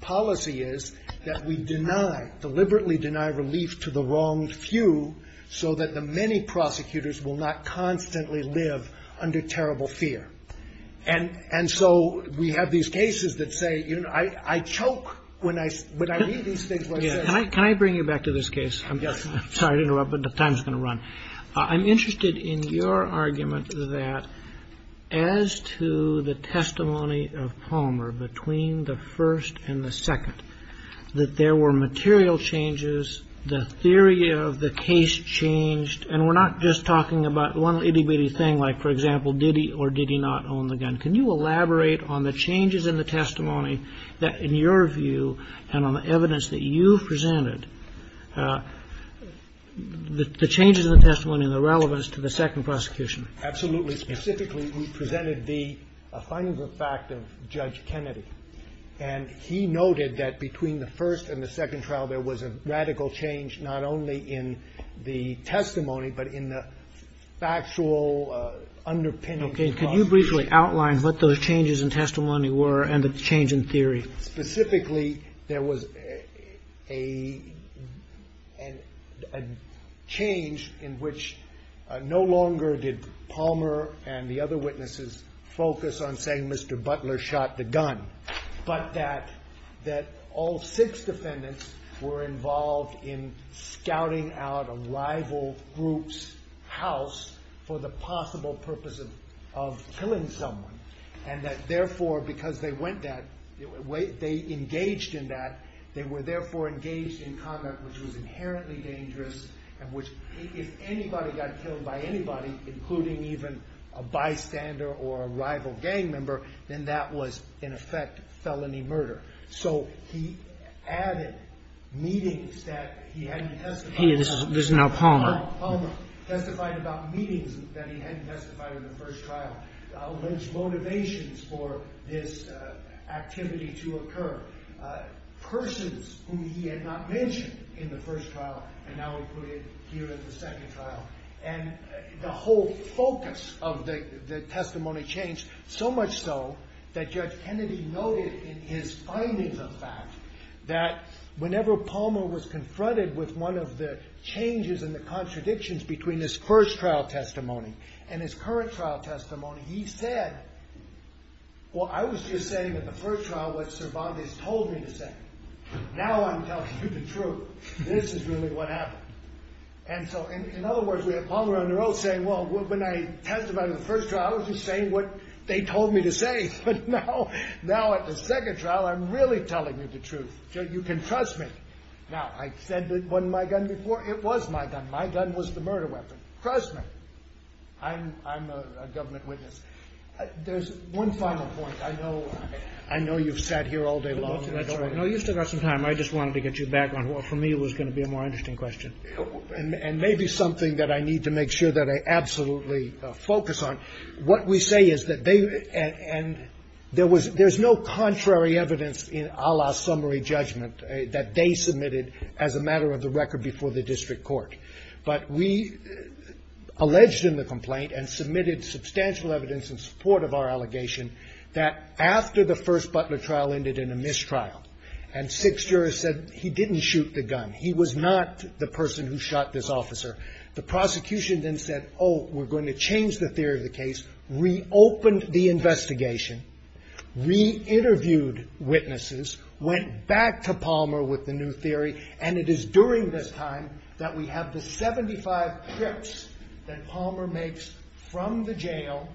policy is that we deliberately deny relief to the wronged few, so that the many prosecutors will not constantly live under terrible fear. And so we have these cases that say, I choke when I read these things. Can I bring you back to this case? I'm interested in your argument that as to the testimony of Palmer between the first and the second, that there were material changes, the theory of the case changed, and we're not just talking about one itty-bitty thing like, for example, did he or did he not own the gun. Can you elaborate on the changes in the testimony that, in your view, and on the evidence that you presented, the changes in the testimony and the relevance to the second prosecution? Absolutely. Specifically, we presented the findings of fact of Judge Kennedy, and he noted that between the first and the second trial, there was a radical change, not only in the testimony, but in the factual underpinning. Can you briefly outline what those changes in testimony were and the change in theory? Specifically, there was a change in which no longer did Palmer and the other witnesses focus on saying Mr. Butler shot the gun, but that all six defendants were involved in scouting out a rival group's house for the possible purposes of killing someone. And that, therefore, because they engaged in that, they were, therefore, engaged in conduct which was inherently dangerous, and which, if anybody got killed by anybody, including even a bystander or a rival gang member, then that was, in effect, felony murder. So he added meetings that he hadn't testified about. There's no Palmer. Palmer testified about meetings that he hadn't testified in the first trial. There's motivations for this activity to occur. Persons whom he had not mentioned in the first trial, and I will put it here in the second trial. And the whole focus of the testimony changed, so much so that Judge Kennedy noted in his findings of fact that whenever Palmer was confronted with one of the changes and the contradictions between his first trial testimony and his current trial testimony, he said, well, I was just saying in the first trial what Sir Bobby told me to say. Now I'm telling you the truth. This is really what happened. And so, in other words, we had Palmer on the road saying, well, when I testified in the first trial, I was just saying what they told me to say. But now, at the second trial, I'm really telling you the truth. You can trust me. Now, I said it wasn't my gun before. It was my gun. My gun was the murder weapon. Trust me. I'm a government witness. There's one final point. I know you've sat here all day long. No, you still got some time. I just wanted to get you back on what for me was going to be a more interesting question. And maybe something that I need to make sure that I absolutely focus on. What we say is that they, and there's no contrary evidence in a la summary judgment that they submitted as a matter of the record before the district court. But we alleged in the complaint and submitted substantial evidence in support of our allegation that after the first Butler trial ended in a mistrial and six jurors said he didn't shoot the gun. He was not the person who shot this officer. The prosecution then said, oh, we're going to change the theory of the case. We opened the investigation. We interviewed witnesses, went back to Palmer with the new theory. And it is during this time that we have the 75 trips that Palmer makes from the jail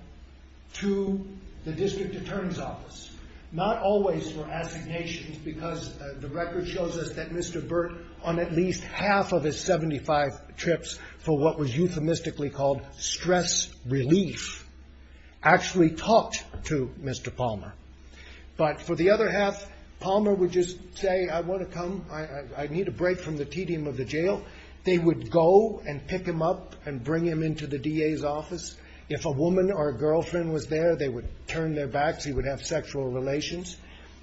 to the district attorney's office. Not always for affidavit because the record shows us that Mr. Burt on at least half of his 75 trips for what was euphemistically called stress relief actually talked to Mr. Palmer. But for the other half, Palmer would just say, I want to come. I need a break from the tedium of the jail. They would go and pick him up and bring him into the DA's office. If a woman or a girlfriend was there, they would turn their backs. He would have sexual relations.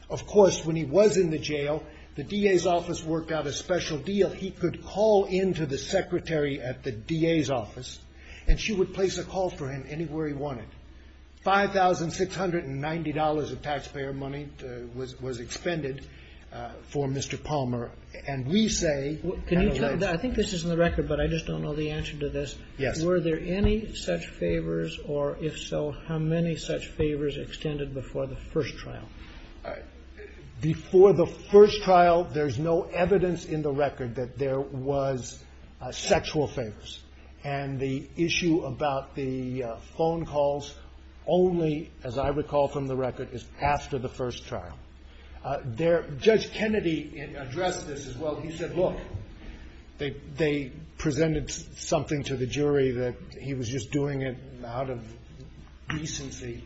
Of course, when he was in the jail, the DA's office worked out a special deal. He could call into the secretary at the DA's office and she would place a call for him anywhere he wanted. $5,690 of taxpayer money was expended for Mr. Palmer. And we say, I think this is in the record, but I just don't know the answer to this. Were there any such favors or if so, how many such favors extended before the first trial? Before the first trial, there's no evidence in the record that there was sexual favors. And the issue about the phone calls only, as I recall from the record, is after the first trial. Judge Kennedy addressed this as well. He said, look, they presented something to the jury that he was just doing it out of decency.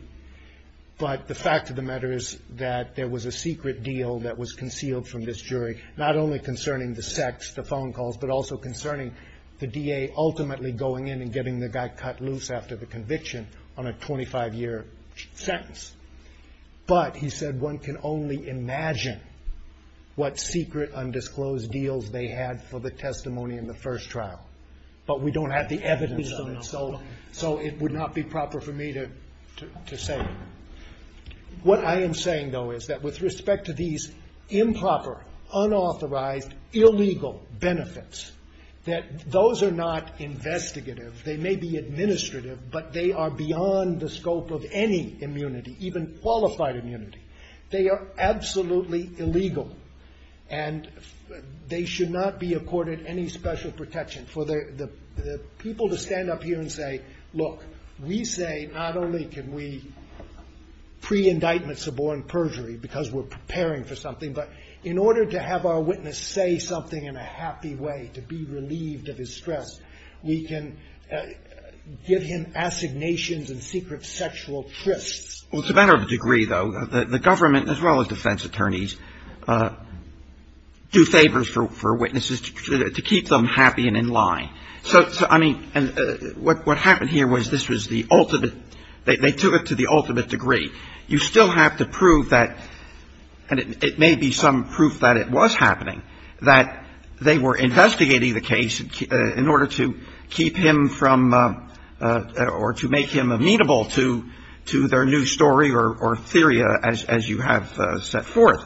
But the fact of the matter is that there was a secret deal that was concealed from this jury, not only concerning the sex, the phone calls, but also concerning the DA ultimately going in and getting the guy cut loose after the conviction on a 25-year sentence. But, he said, one can only imagine what secret, undisclosed deals they had for the testimony in the first trial. But we don't have the evidence, so it would not be proper for me to say. What I am saying, though, is that with respect to these improper, unauthorized, illegal benefits, that those are not investigative. They may be administrative, but they are beyond the scope of any immunity, even qualified immunity. They are absolutely illegal, and they should not be accorded any special protection. For the people to stand up here and say, look, we say not only can we pre-indictment suborn perjury because we're preparing for something, but in order to have our witness say something in a happy way, to be relieved of his stress, we can give him assignations and secret sexual thrists. Well, it's a matter of degree, though. The government, as well as defense attorneys, do favors for witnesses to keep them happy and in line. So, I mean, what happened here was this was the ultimate, they took it to the ultimate degree. You still have to prove that, and it may be some proof that it was happening, that they were investigating the case in order to keep him from, or to make him amenable to their new story or theory, as you have set forth.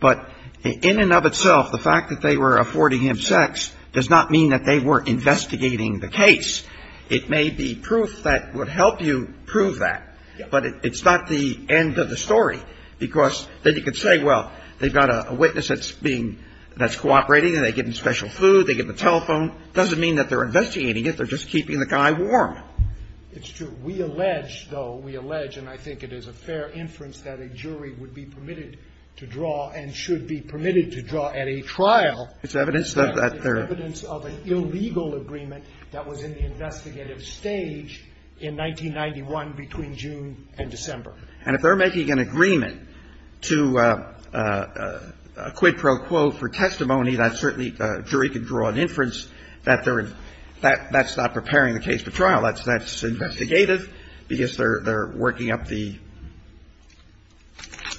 But in and of itself, the fact that they were affording him sex does not mean that they were investigating the case. It may be proof that would help you prove that, but it's not the end of the story. Because then you could say, well, they've got a witness that's cooperating and they're getting special food, they get the telephone. It doesn't mean that they're investigating it, they're just keeping the guy warm. It's true. We allege, though, we allege, and I think it is a fair inference that a jury would be permitted to draw and should be permitted to draw at a trial evidence of an illegal agreement that was in the investigative stage in 1991 between June and December. And if they're making an agreement to a quid pro quo for testimony, that's certainly a jury could draw an inference that that's not preparing the case for trial. That's investigative because they're working up the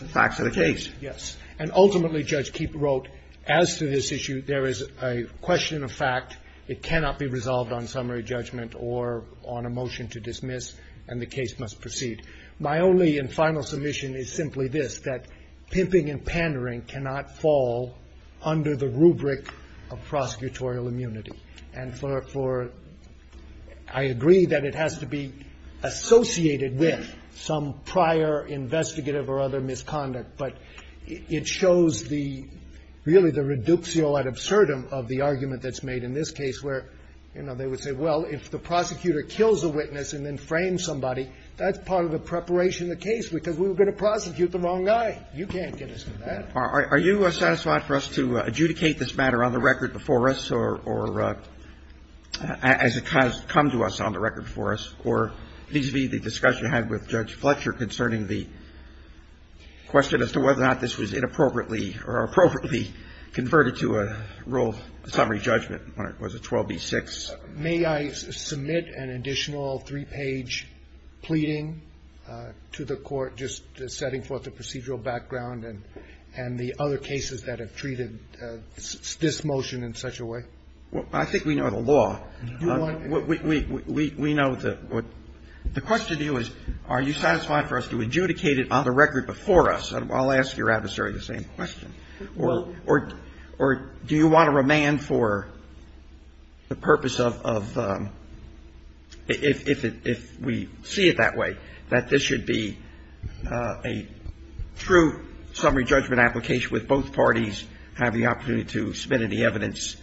facts of the case. Yes. And ultimately, Judge Keefe wrote, as to this issue, there is a question of fact. It cannot be resolved on summary judgment or on a motion to dismiss, and the case must proceed. My only and final submission is simply this, that pimping and pandering cannot fall under the rubric of prosecutorial immunity. And for I agree that it has to be associated with some prior investigative or other misconduct, but it shows the really the reductio ad absurdum of the argument that's made in this case where, you know, they would say, well, if the prosecutor kills a witness and then frames somebody, that's part of the preparation of the case because we were going to prosecute the wrong guy. You can't do this. Are you satisfied for us to adjudicate this matter on the record before us or as it has come to us on the record for us, or vis-à-vis the discussion you had with Judge Fletcher concerning the question as to whether or not this was inappropriately or appropriately converted to a rule of summary judgment when it was a 12B6? May I submit an additional three-page pleading to the Court just setting forth the procedural background and the other cases that have treated this motion in such a way? Well, I think we know the law. We know the question to do is, are you satisfied for us to adjudicate it on the record before us? I'll ask your adversary the same question. Or do you want to remand for the purpose of, if we see it that way, that this should be a true summary judgment application with both parties having the opportunity to submit any evidence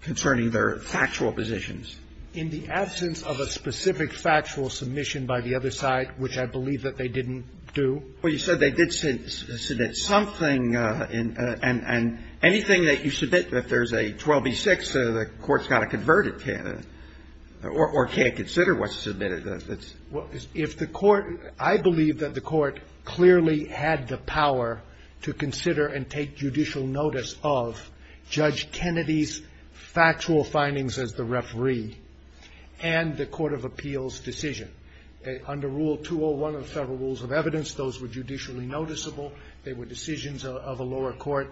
concerning their factual positions? In the absence of a specific factual submission by the other side, which I believe that they didn't do? Well, you said they did submit something, and anything that you submit that there's a 12B6, the Court's got to convert it to, or can't consider what's submitted. Well, if the Court, I believe that the Court clearly had the power to consider and take judicial notice of Judge Kennedy's factual findings as the referee and the Court of Appeals' decision. Under Rule 201 of the Federal Rules of Evidence, those were judicially noticeable. They were decisions of a lower court,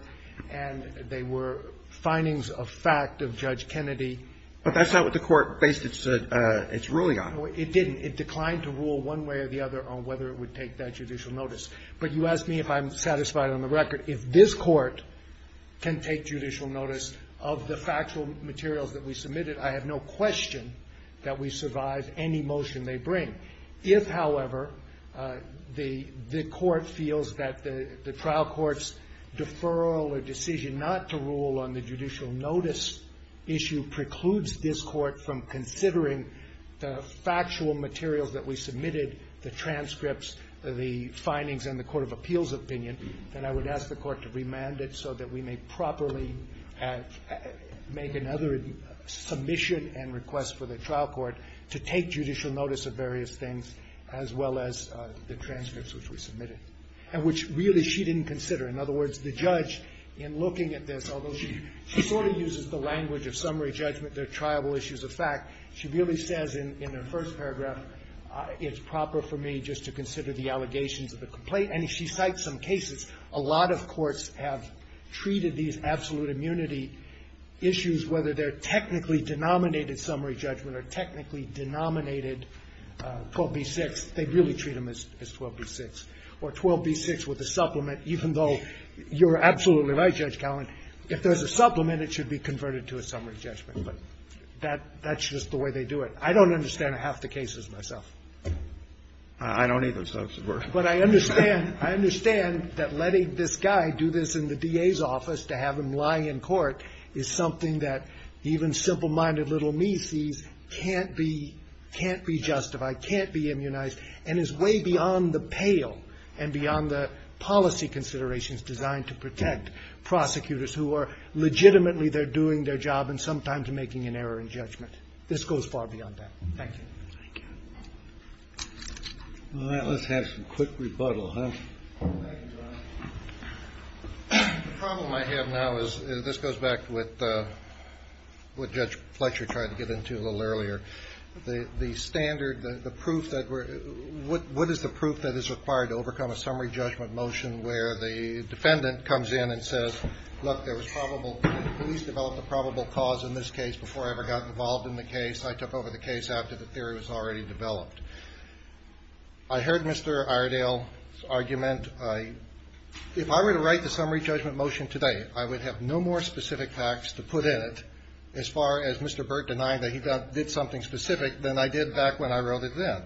and they were findings of fact of Judge Kennedy. But that's not what the Court based its ruling on. It didn't. It declined to rule one way or the other on whether it would take that judicial notice. But you asked me if I'm satisfied on the record. If this Court can take judicial notice of the factual materials that we submitted, I have no question that we survive any motion they bring. If, however, the Court feels that the trial court's deferral or decision not to rule on the judicial notice issue precludes this Court from considering the factual materials that we submitted, the transcripts, the findings, and the Court of Appeals' opinion, then I would ask the Court to remand it so that we may properly make another submission and request for the trial court to take judicial notice of various things, as well as the transcripts which we submitted, which really she didn't consider. In other words, the judge, in looking at this, although she sort of uses the language of summary judgment, the tribal issues of fact, she really says in the first paragraph, it's proper for me just to consider the allegations of the complaint. And she cites some cases. A lot of courts have treated these absolute immunity issues, whether they're technically denominated summary judgment or technically denominated 12b-6, they really treat them as 12b-6. Or 12b-6 with a supplement, even though you're absolutely right, Judge Talen, if there's a supplement, it should be converted to a summary judgment. But that's just the way they do it. I don't understand half the cases myself. I don't either, so that's worse. But I understand that letting this guy do this in the DA's office to have him lie in court is something that even simple-minded little me sees can't be justified, can't be immunized, and is way beyond the pale and beyond the policy considerations designed to protect prosecutors who are legitimately there doing their job and sometimes making an error in judgment. This goes far beyond that. Thank you. Let's have some quick rebuttal. The problem I have now is, this goes back to what Judge Fletcher tried to get into a little earlier. What is the proof that is required to overcome a summary judgment motion where the defendant comes in and says, look, the police developed a probable cause in this case before I ever got involved in the case. I took over the case after the theory was already developed. I heard Mr. Iredale's argument. If I were to write the summary judgment motion today, I would have no more specific facts to put in it as far as Mr. Burt denying that he did something specific than I did back when I wrote it then.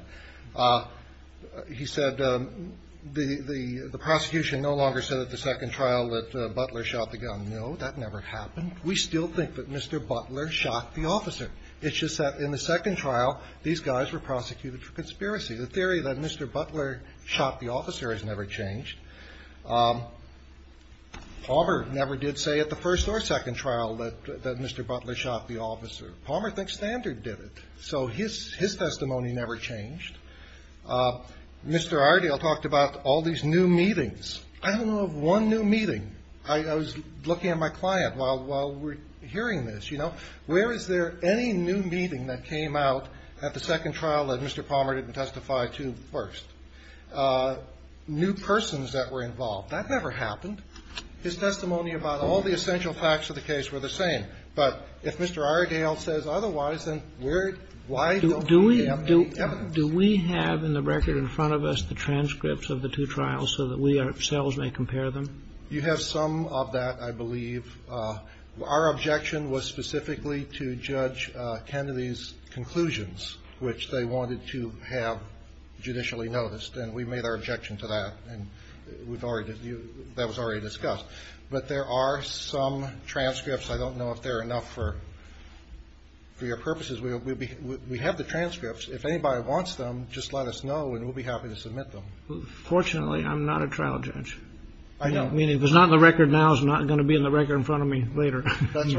He said the prosecution no longer said at the second trial that Butler shot the gun. No, that never happened. We still think that Mr. Butler shot the officer. It's just that in the second trial, these guys were prosecuted for conspiracy. The theory that Mr. Butler shot the officer has never changed. Palmer never did say at the first or second trial that Mr. Butler shot the officer. Palmer thinks Standard did it, so his testimony never changed. Mr. Iredale talked about all these new meetings. I don't know of one new meeting. I was looking at my client while we were hearing this, you know. Where is there any new meeting that came out at the second trial that Mr. Palmer didn't testify to first? New persons that were involved. That never happened. His testimony about all the essential facts of the case were the same. But if Mr. Iredale says otherwise, then why don't we have any evidence? Do we have in the record in front of us the transcripts of the two trials so that we ourselves may compare them? You have some of that, I believe. Our objection was specifically to Judge Kennedy's conclusions, which they wanted to have judicially noticed. And we made our objection to that. And that was already discussed. But there are some transcripts. I don't know if they're enough for your purposes. We have the transcripts. If anybody wants them, just let us know and we'll be happy to submit them. Fortunately, I'm not a trial judge. If it's not in the record now, it's not going to be in the record in front of me later. I'm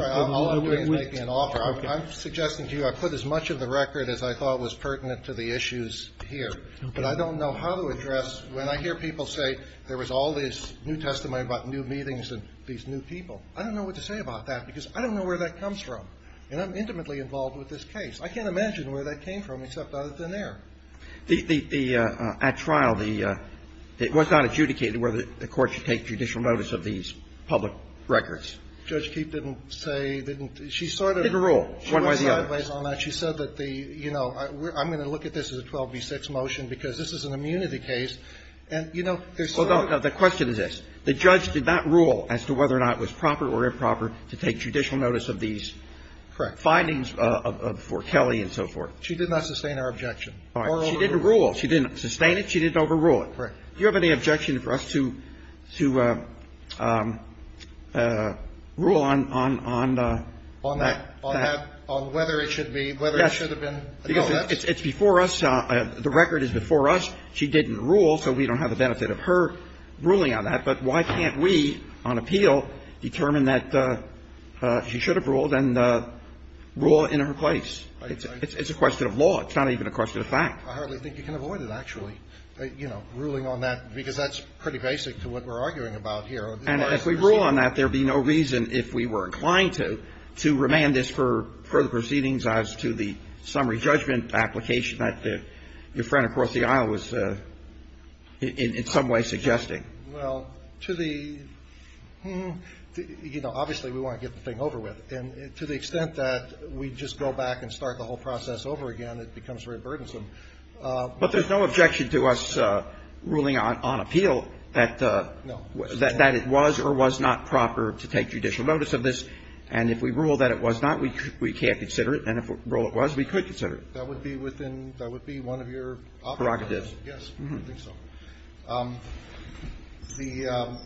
suggesting to you I put as much of the record as I thought was pertinent to the issues here. But I don't know how to address when I hear people say there was all this new testimony about new meetings of these new people. I don't know what to say about that because I don't know where that comes from. And I'm intimately involved with this case. I can't imagine where that came from except out of thin air. At trial, it was not adjudicated whether the court should take judicial notice of these public records. Judge Keefe didn't say, didn't she sort of... Didn't rule one way or the other. She said that the, you know, I'm going to look at this as a 12B6 motion because this is an immunity case. And, you know, there's... Well, no, the question is this. The judge did not rule as to whether or not it was proper or improper to take judicial notice of these findings for Kelly and so forth. She did not sustain our objection. She didn't rule. She didn't sustain it. She didn't overrule it. Do you have any objection for us to rule on that? On whether it should be... Yes. Because it's before us. The record is before us. She didn't rule, so we don't have a benefit of her ruling on that. But why can't we, on appeal, determine that she should have ruled and rule in her place? It's a question of law. It's not even a question of fact. I hardly think you can avoid it, actually. You know, ruling on that, because that's pretty basic to what we're arguing about here. And if we rule on that, there'd be no reason, if we were inclined to, to remand this for further proceedings as to the summary judgment application that your friend across the aisle was in some way suggesting. Well, to the... You know, obviously, we want to get the thing over with. And to the extent that we just go back and start the whole process over again, it becomes very burdensome. But there's no objection to us ruling on appeal that it was or was not proper to take judicial notice of this. And if we rule that it was not, we can't consider it. And if we rule it was, we could consider it. That would be within... That would be one of your... Prerogatives. Yes. I think so. The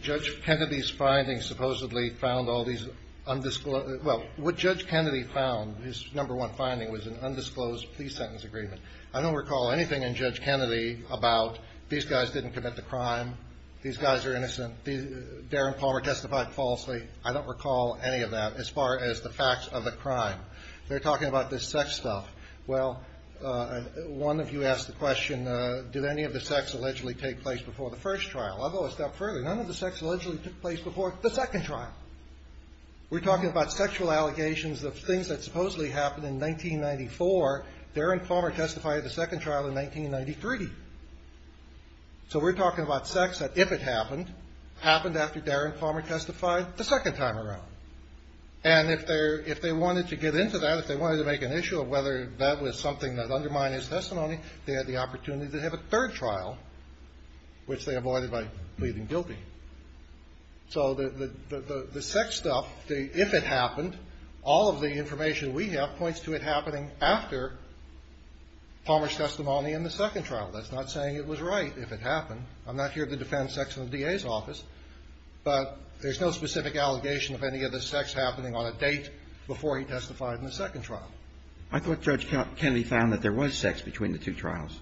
Judge Kennedy's findings supposedly found all these undisclosed... Well, what Judge Kennedy found, his number one finding, was an undisclosed plea sentence agreement. I don't recall anything in Judge Kennedy about these guys didn't commit the crime, these guys are innocent, Darren Palmer testified falsely. I don't recall any of that as far as the facts of the crime. They're talking about this sex stuff. Well, one of you asked the question, did any of the sex allegedly take place before the first trial? I'll go a step further. None of the sex allegedly took place before the second trial. We're talking about sexual allegations of things that supposedly happened in 1994. Darren Palmer testified at the second trial in 1993. So we're talking about sex that, if it happened, happened after Darren Palmer testified the second time around. And if they wanted to get into that, if they wanted to make an issue of whether that was something that undermined his testimony, they had the opportunity to have a third trial, which they avoided by pleading guilty. So the sex stuff, if it happened, all of the information we have points to it happening after Palmer's testimony in the second trial. That's not saying it was right if it happened. I'm not here to defend sex in the DA's office. But there's no specific allegation of any of the sex happening on a date before he testified in the second trial. I thought Judge Kennedy found that there was sex between the two trials.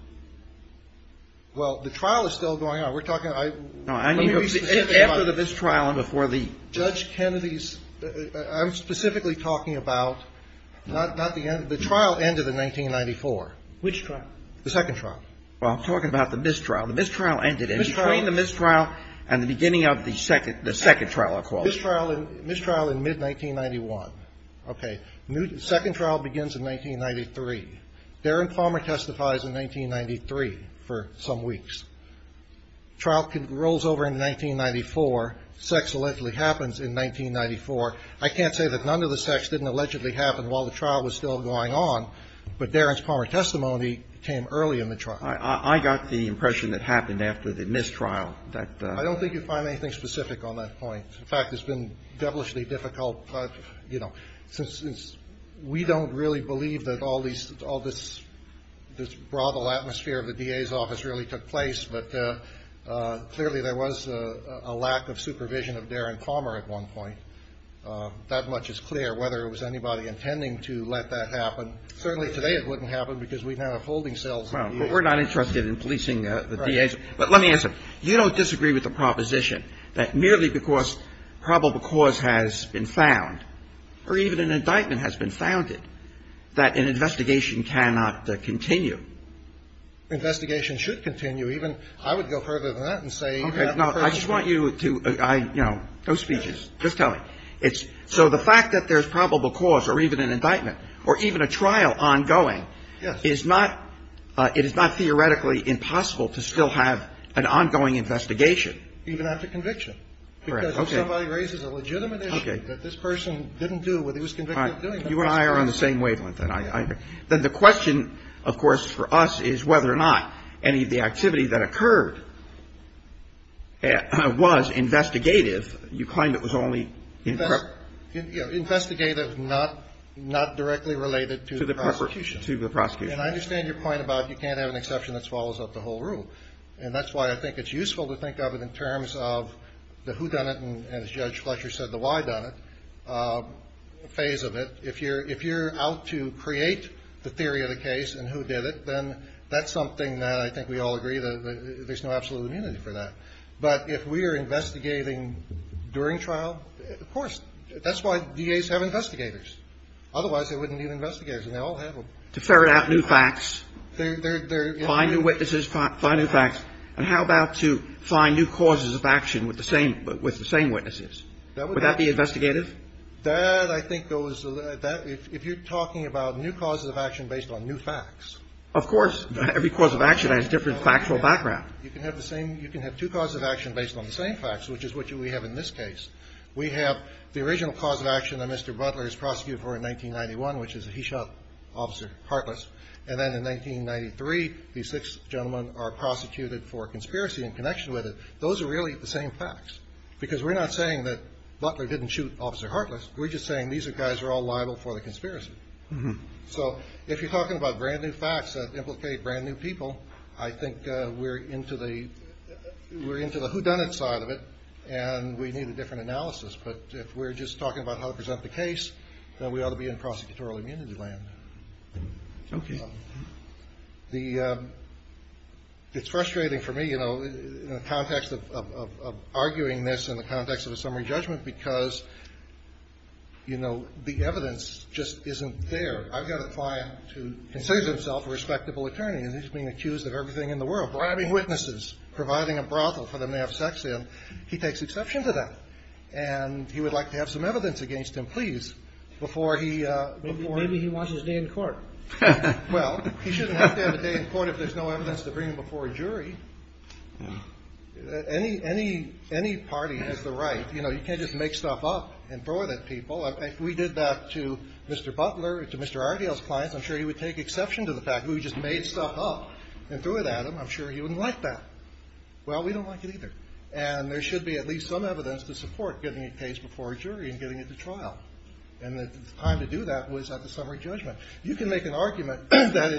Well, the trial is still going on. We're talking – After the mistrial and before the – Judge Kennedy's – I'm specifically talking about – the trial ended in 1994. Which trial? The second trial. Well, I'm talking about the mistrial. The mistrial ended in between the mistrial and the beginning of the second trial, of course. Mistrial in mid-1991. Okay. Second trial begins in 1993. Darren Palmer testifies in 1993 for some weeks. Trial rolls over in 1994. Sex allegedly happens in 1994. I can't say that none of the sex didn't allegedly happen while the trial was still going on. But Darren's Palmer testimony came early in the trial. I got the impression that happened after the mistrial. I don't think you'll find anything specific on that point. In fact, it's been devilishly difficult. You know, since we don't really believe that all this – this brothel atmosphere of the DA's office really took place. But clearly there was a lack of supervision of Darren Palmer at one point. That much is clear, whether it was anybody intending to let that happen. Certainly today it wouldn't happen because we've had a folding cell. But we're not interested in policing the DA's office. But let me answer. You don't disagree with the proposition that merely because probable cause has been found, or even an indictment has been founded, that an investigation cannot continue? Investigation should continue. Even I would go further than that and say – Okay. No, I just want you to – you know, those features. Just tell me. So the fact that there's probable cause, or even an indictment, or even a trial ongoing, is not – it is not theoretically impossible to still have an ongoing investigation. Even after conviction. Correct. Because if somebody raises a legitimate issue that this person didn't do when he was convicted of doing something – You and I are on the same wavelength. Then the question, of course, for us is whether or not any of the activity that occurred was investigative. You claim it was only – Investigative, not directly related to the prosecution. To the prosecution. And I understand your point about you can't have an exception that swallows up the whole room. And that's why I think it's useful to think of it in terms of the who done it, and as Judge Fletcher said, the why done it phase of it. If you're out to create the theory of the case and who did it, then that's something that I think we all agree that there's no absolute immunity for that. But if we are investigating during trial, of course. That's why DAs have investigators. Otherwise, they wouldn't need investigators. And they all have them. To ferret out new facts. Find new witnesses, find new facts. And how about to find new causes of action with the same witnesses? Would that be investigative? That, I think, goes – if you're talking about new causes of action based on new facts. Of course. Every cause of action has a different factual background. You can have two causes of action based on the same facts, which is what we have in this case. We have the original cause of action that Mr. Butler is prosecuted for in 1991, which is that he shot Officer Hartless. And then in 1993, these six gentlemen are prosecuted for conspiracy in connection with it. Those are really the same facts. Because we're not saying that Butler didn't shoot Officer Hartless. We're just saying these guys are all liable for the conspiracy. So if you're talking about brand new facts that implicate brand new people, I think we're into the whodunit side of it and we need a different analysis. But if we're just talking about how to present the case, then we ought to be in prosecutorial immunity realm. Okay. It's frustrating for me, you know, in the context of arguing this in the context of a summary judgment because, you know, the evidence just isn't there. I've got a client who considers himself a respectable attorney and he's being accused of everything in the world, bribing witnesses, providing a brothel for them to have sex in. He takes exception to that. And he would like to have some evidence against him, please, before he... Or maybe he wants his name in court. Well, he shouldn't have to have his name in court if there's no evidence to bring him before a jury. Any party has the right. You know, you can't just make stuff up and throw it at people. If we did that to Mr. Butler or to Mr. Argyle's client, I'm sure he would take exception to the fact that we just made stuff up and threw it at him. I'm sure he wouldn't like that. Well, we don't like it either. And there should be at least some evidence to support getting a case before a jury and getting it to trial. And the time to do that was at the summary judgment. You can make an argument that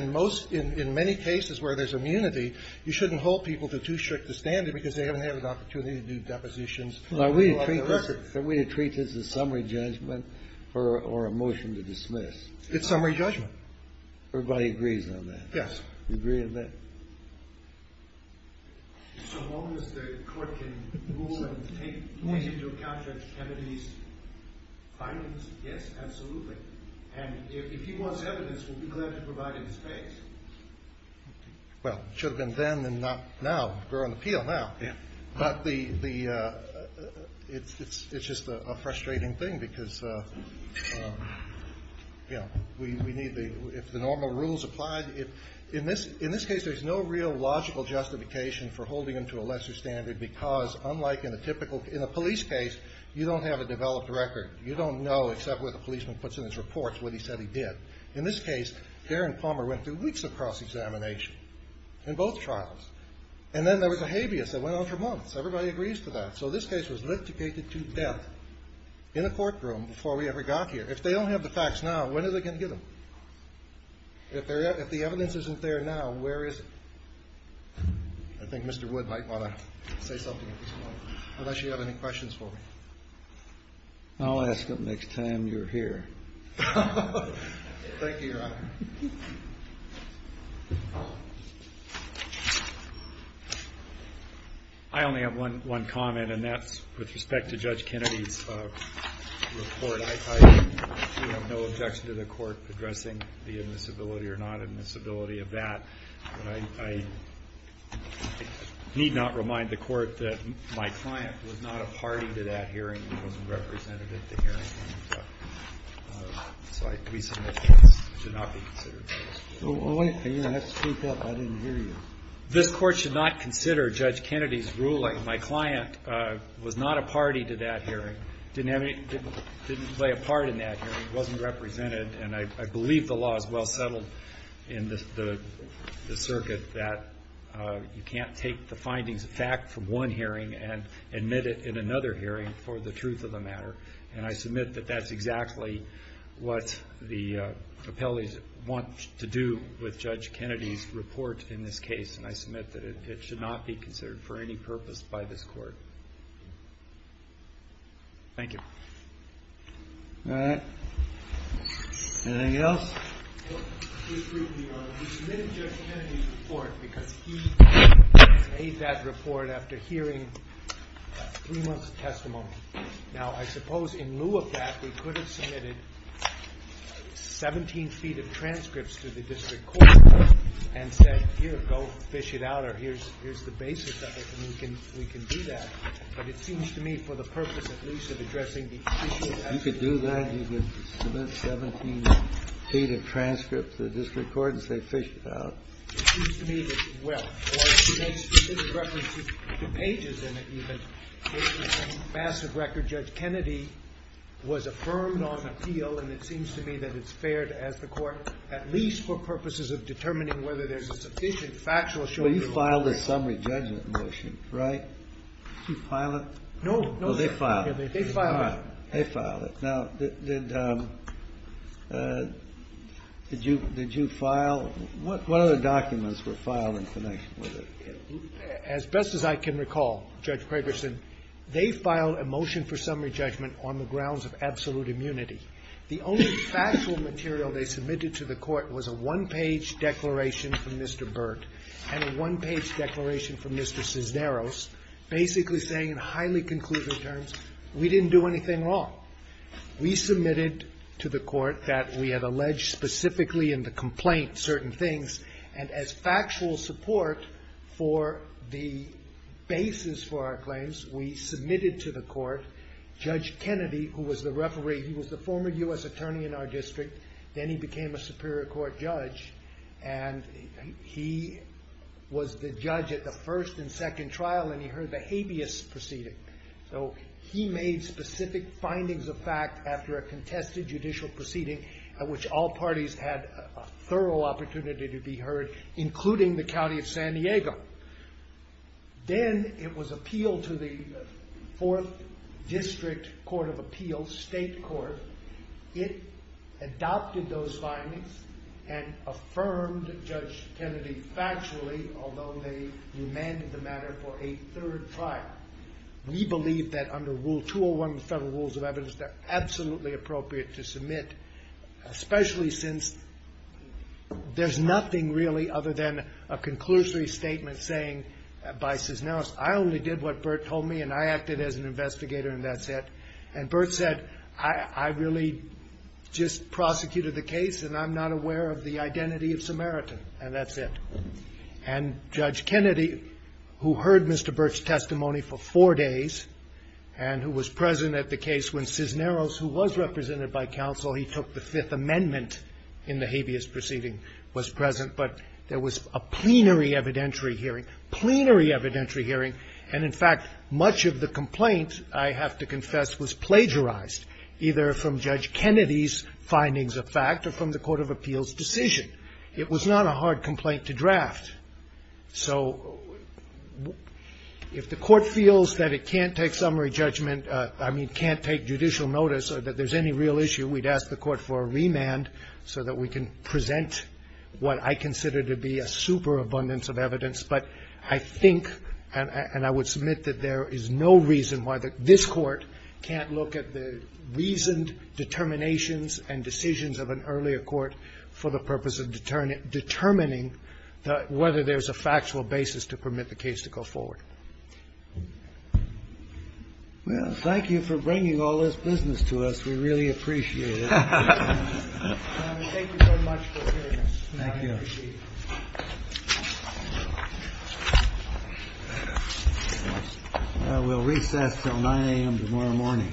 in many cases where there's immunity, you shouldn't hold people to too strict a standard because they haven't had an opportunity to do depositions. Are we to treat this as a summary judgment or a motion to dismiss? It's summary judgment. Everybody agrees on that? Yes. You agree with that? As long as the court can rule and take into account that Kennedy's findings, yes, absolutely. And if he wants evidence, we'll be glad to provide him his case. Well, it should have been then and not now. We're on the field now. It's just a frustrating thing because if the normal rules apply. In this case, there's no real logical justification for holding him to a lesser standard because unlike in a police case, you don't have a developed record. You don't know except what the policeman puts in his report what he said he did. In this case, Darren Palmer went through weeks of cross-examination in both trials. And then there was a habeas that went on for months. Everybody agrees to that. So this case was limited to death in a courtroom before we ever got here. If they don't have the facts now, when are they going to get them? If the evidence isn't there now, where is it? I think Mr. Wood might want to say something unless you have any questions for me. Thank you, Your Honor. I only have one comment, and that's with respect to Judge Kennedy's report. I have no objection to the court addressing the admissibility or not admissibility of that. I need not remind the court that my client was not a party to that hearing. He wasn't representative at the hearing. So I'd be surprised to not be considered. Well, wait a minute. I didn't hear you. This court should not consider Judge Kennedy's ruling. My client was not a party to that hearing. He didn't play a part in that hearing. He wasn't represented. And I believe the law is well settled in the circuit that you can't take the findings of fact from one hearing and admit it in another hearing for the truth of the matter. And I submit that that's exactly what the appellees want to do with Judge Kennedy's report in this case. And I submit that it should not be considered for any purpose by this court. Thank you. All right. Anything else? We submitted Judge Kennedy's report because he made that report after hearing three months' testimony. Now, I suppose in lieu of that, we could have submitted 17 feet of transcripts to the district court and said, here, go fish it out, or here's the basis of it, and we can do that. But it seems to me, for the purpose, at least, of addressing the issue, I think we should do that. You could do that. You could submit 17 feet of transcripts to the district court and say, fish it out. It seems to me that, well, in reference to the pages in it, even, it's a massive record. Judge Kennedy was affirmed on appeal, and it seems to me that it's fair to ask the court, at least for purposes of determining whether there's a sufficient factual assurance. Well, you filed an assembly judgment motion, right? Did you file it? No. Oh, they filed it. They filed it. They filed it. Now, did you file? What other documents were filed in connection with it? As best as I can recall, Judge Fredersen, they filed a motion for summary judgment on the grounds of absolute immunity. The only factual material they submitted to the court was a one-page declaration from Mr. Burt and a one-page declaration from Mr. Cisneros, basically saying in highly conclusive terms, we didn't do anything wrong. We submitted to the court that we had alleged specifically in the complaint certain things, and as factual support for the basis for our claims, we submitted to the court Judge Kennedy, who was the referee, he was the former U.S. attorney in our district, then he became a Superior Court judge, and he was the judge at the first and second trial, and he heard the habeas proceeding. So he made specific findings of fact after a contested judicial proceeding at which all parties had a thorough opportunity to be heard, including the county of San Diego. Then it was appealed to the Fourth District Court of Appeals, state court. It adopted those findings and affirmed Judge Kennedy factually, although they demanded the matter for a third trial. We believe that under Rule 201 of the Federal Rules of Evidence, they're absolutely appropriate to submit, especially since there's nothing really other than a conclusory statement saying by Cisneros, I only did what Burt told me and I acted as an investigator and that's it. And Burt said, I really just prosecuted the case and I'm not aware of the identity of Samaritan, and that's it. And Judge Kennedy, who heard Mr. Burt's testimony for four days, and who was present at the case when Cisneros, who was represented by counsel, he took the Fifth Amendment in the habeas proceeding, was present, but there was a plenary evidentiary hearing, plenary evidentiary hearing, and in fact, much of the complaint, I have to confess, was plagiarized, either from Judge Kennedy's findings of fact or from the Court of Appeals' decision. It was not a hard complaint to draft, so if the court feels that it can't take summary judgment, I mean can't take judicial notice or that there's any real issue, we'd ask the court for a remand so that we can present what I consider to be a super abundance of evidence. But I think, and I would submit that there is no reason why this court can't look at the reasoned determinations and decisions of an earlier court for the purpose of determining whether there's a factual basis to permit the case to go forward. Well, thank you for bringing all this business to us. We really appreciate it. Thank you very much for hearing us. Thank you. Well, we'll leave that until 9 a.m. tomorrow morning. Thank you.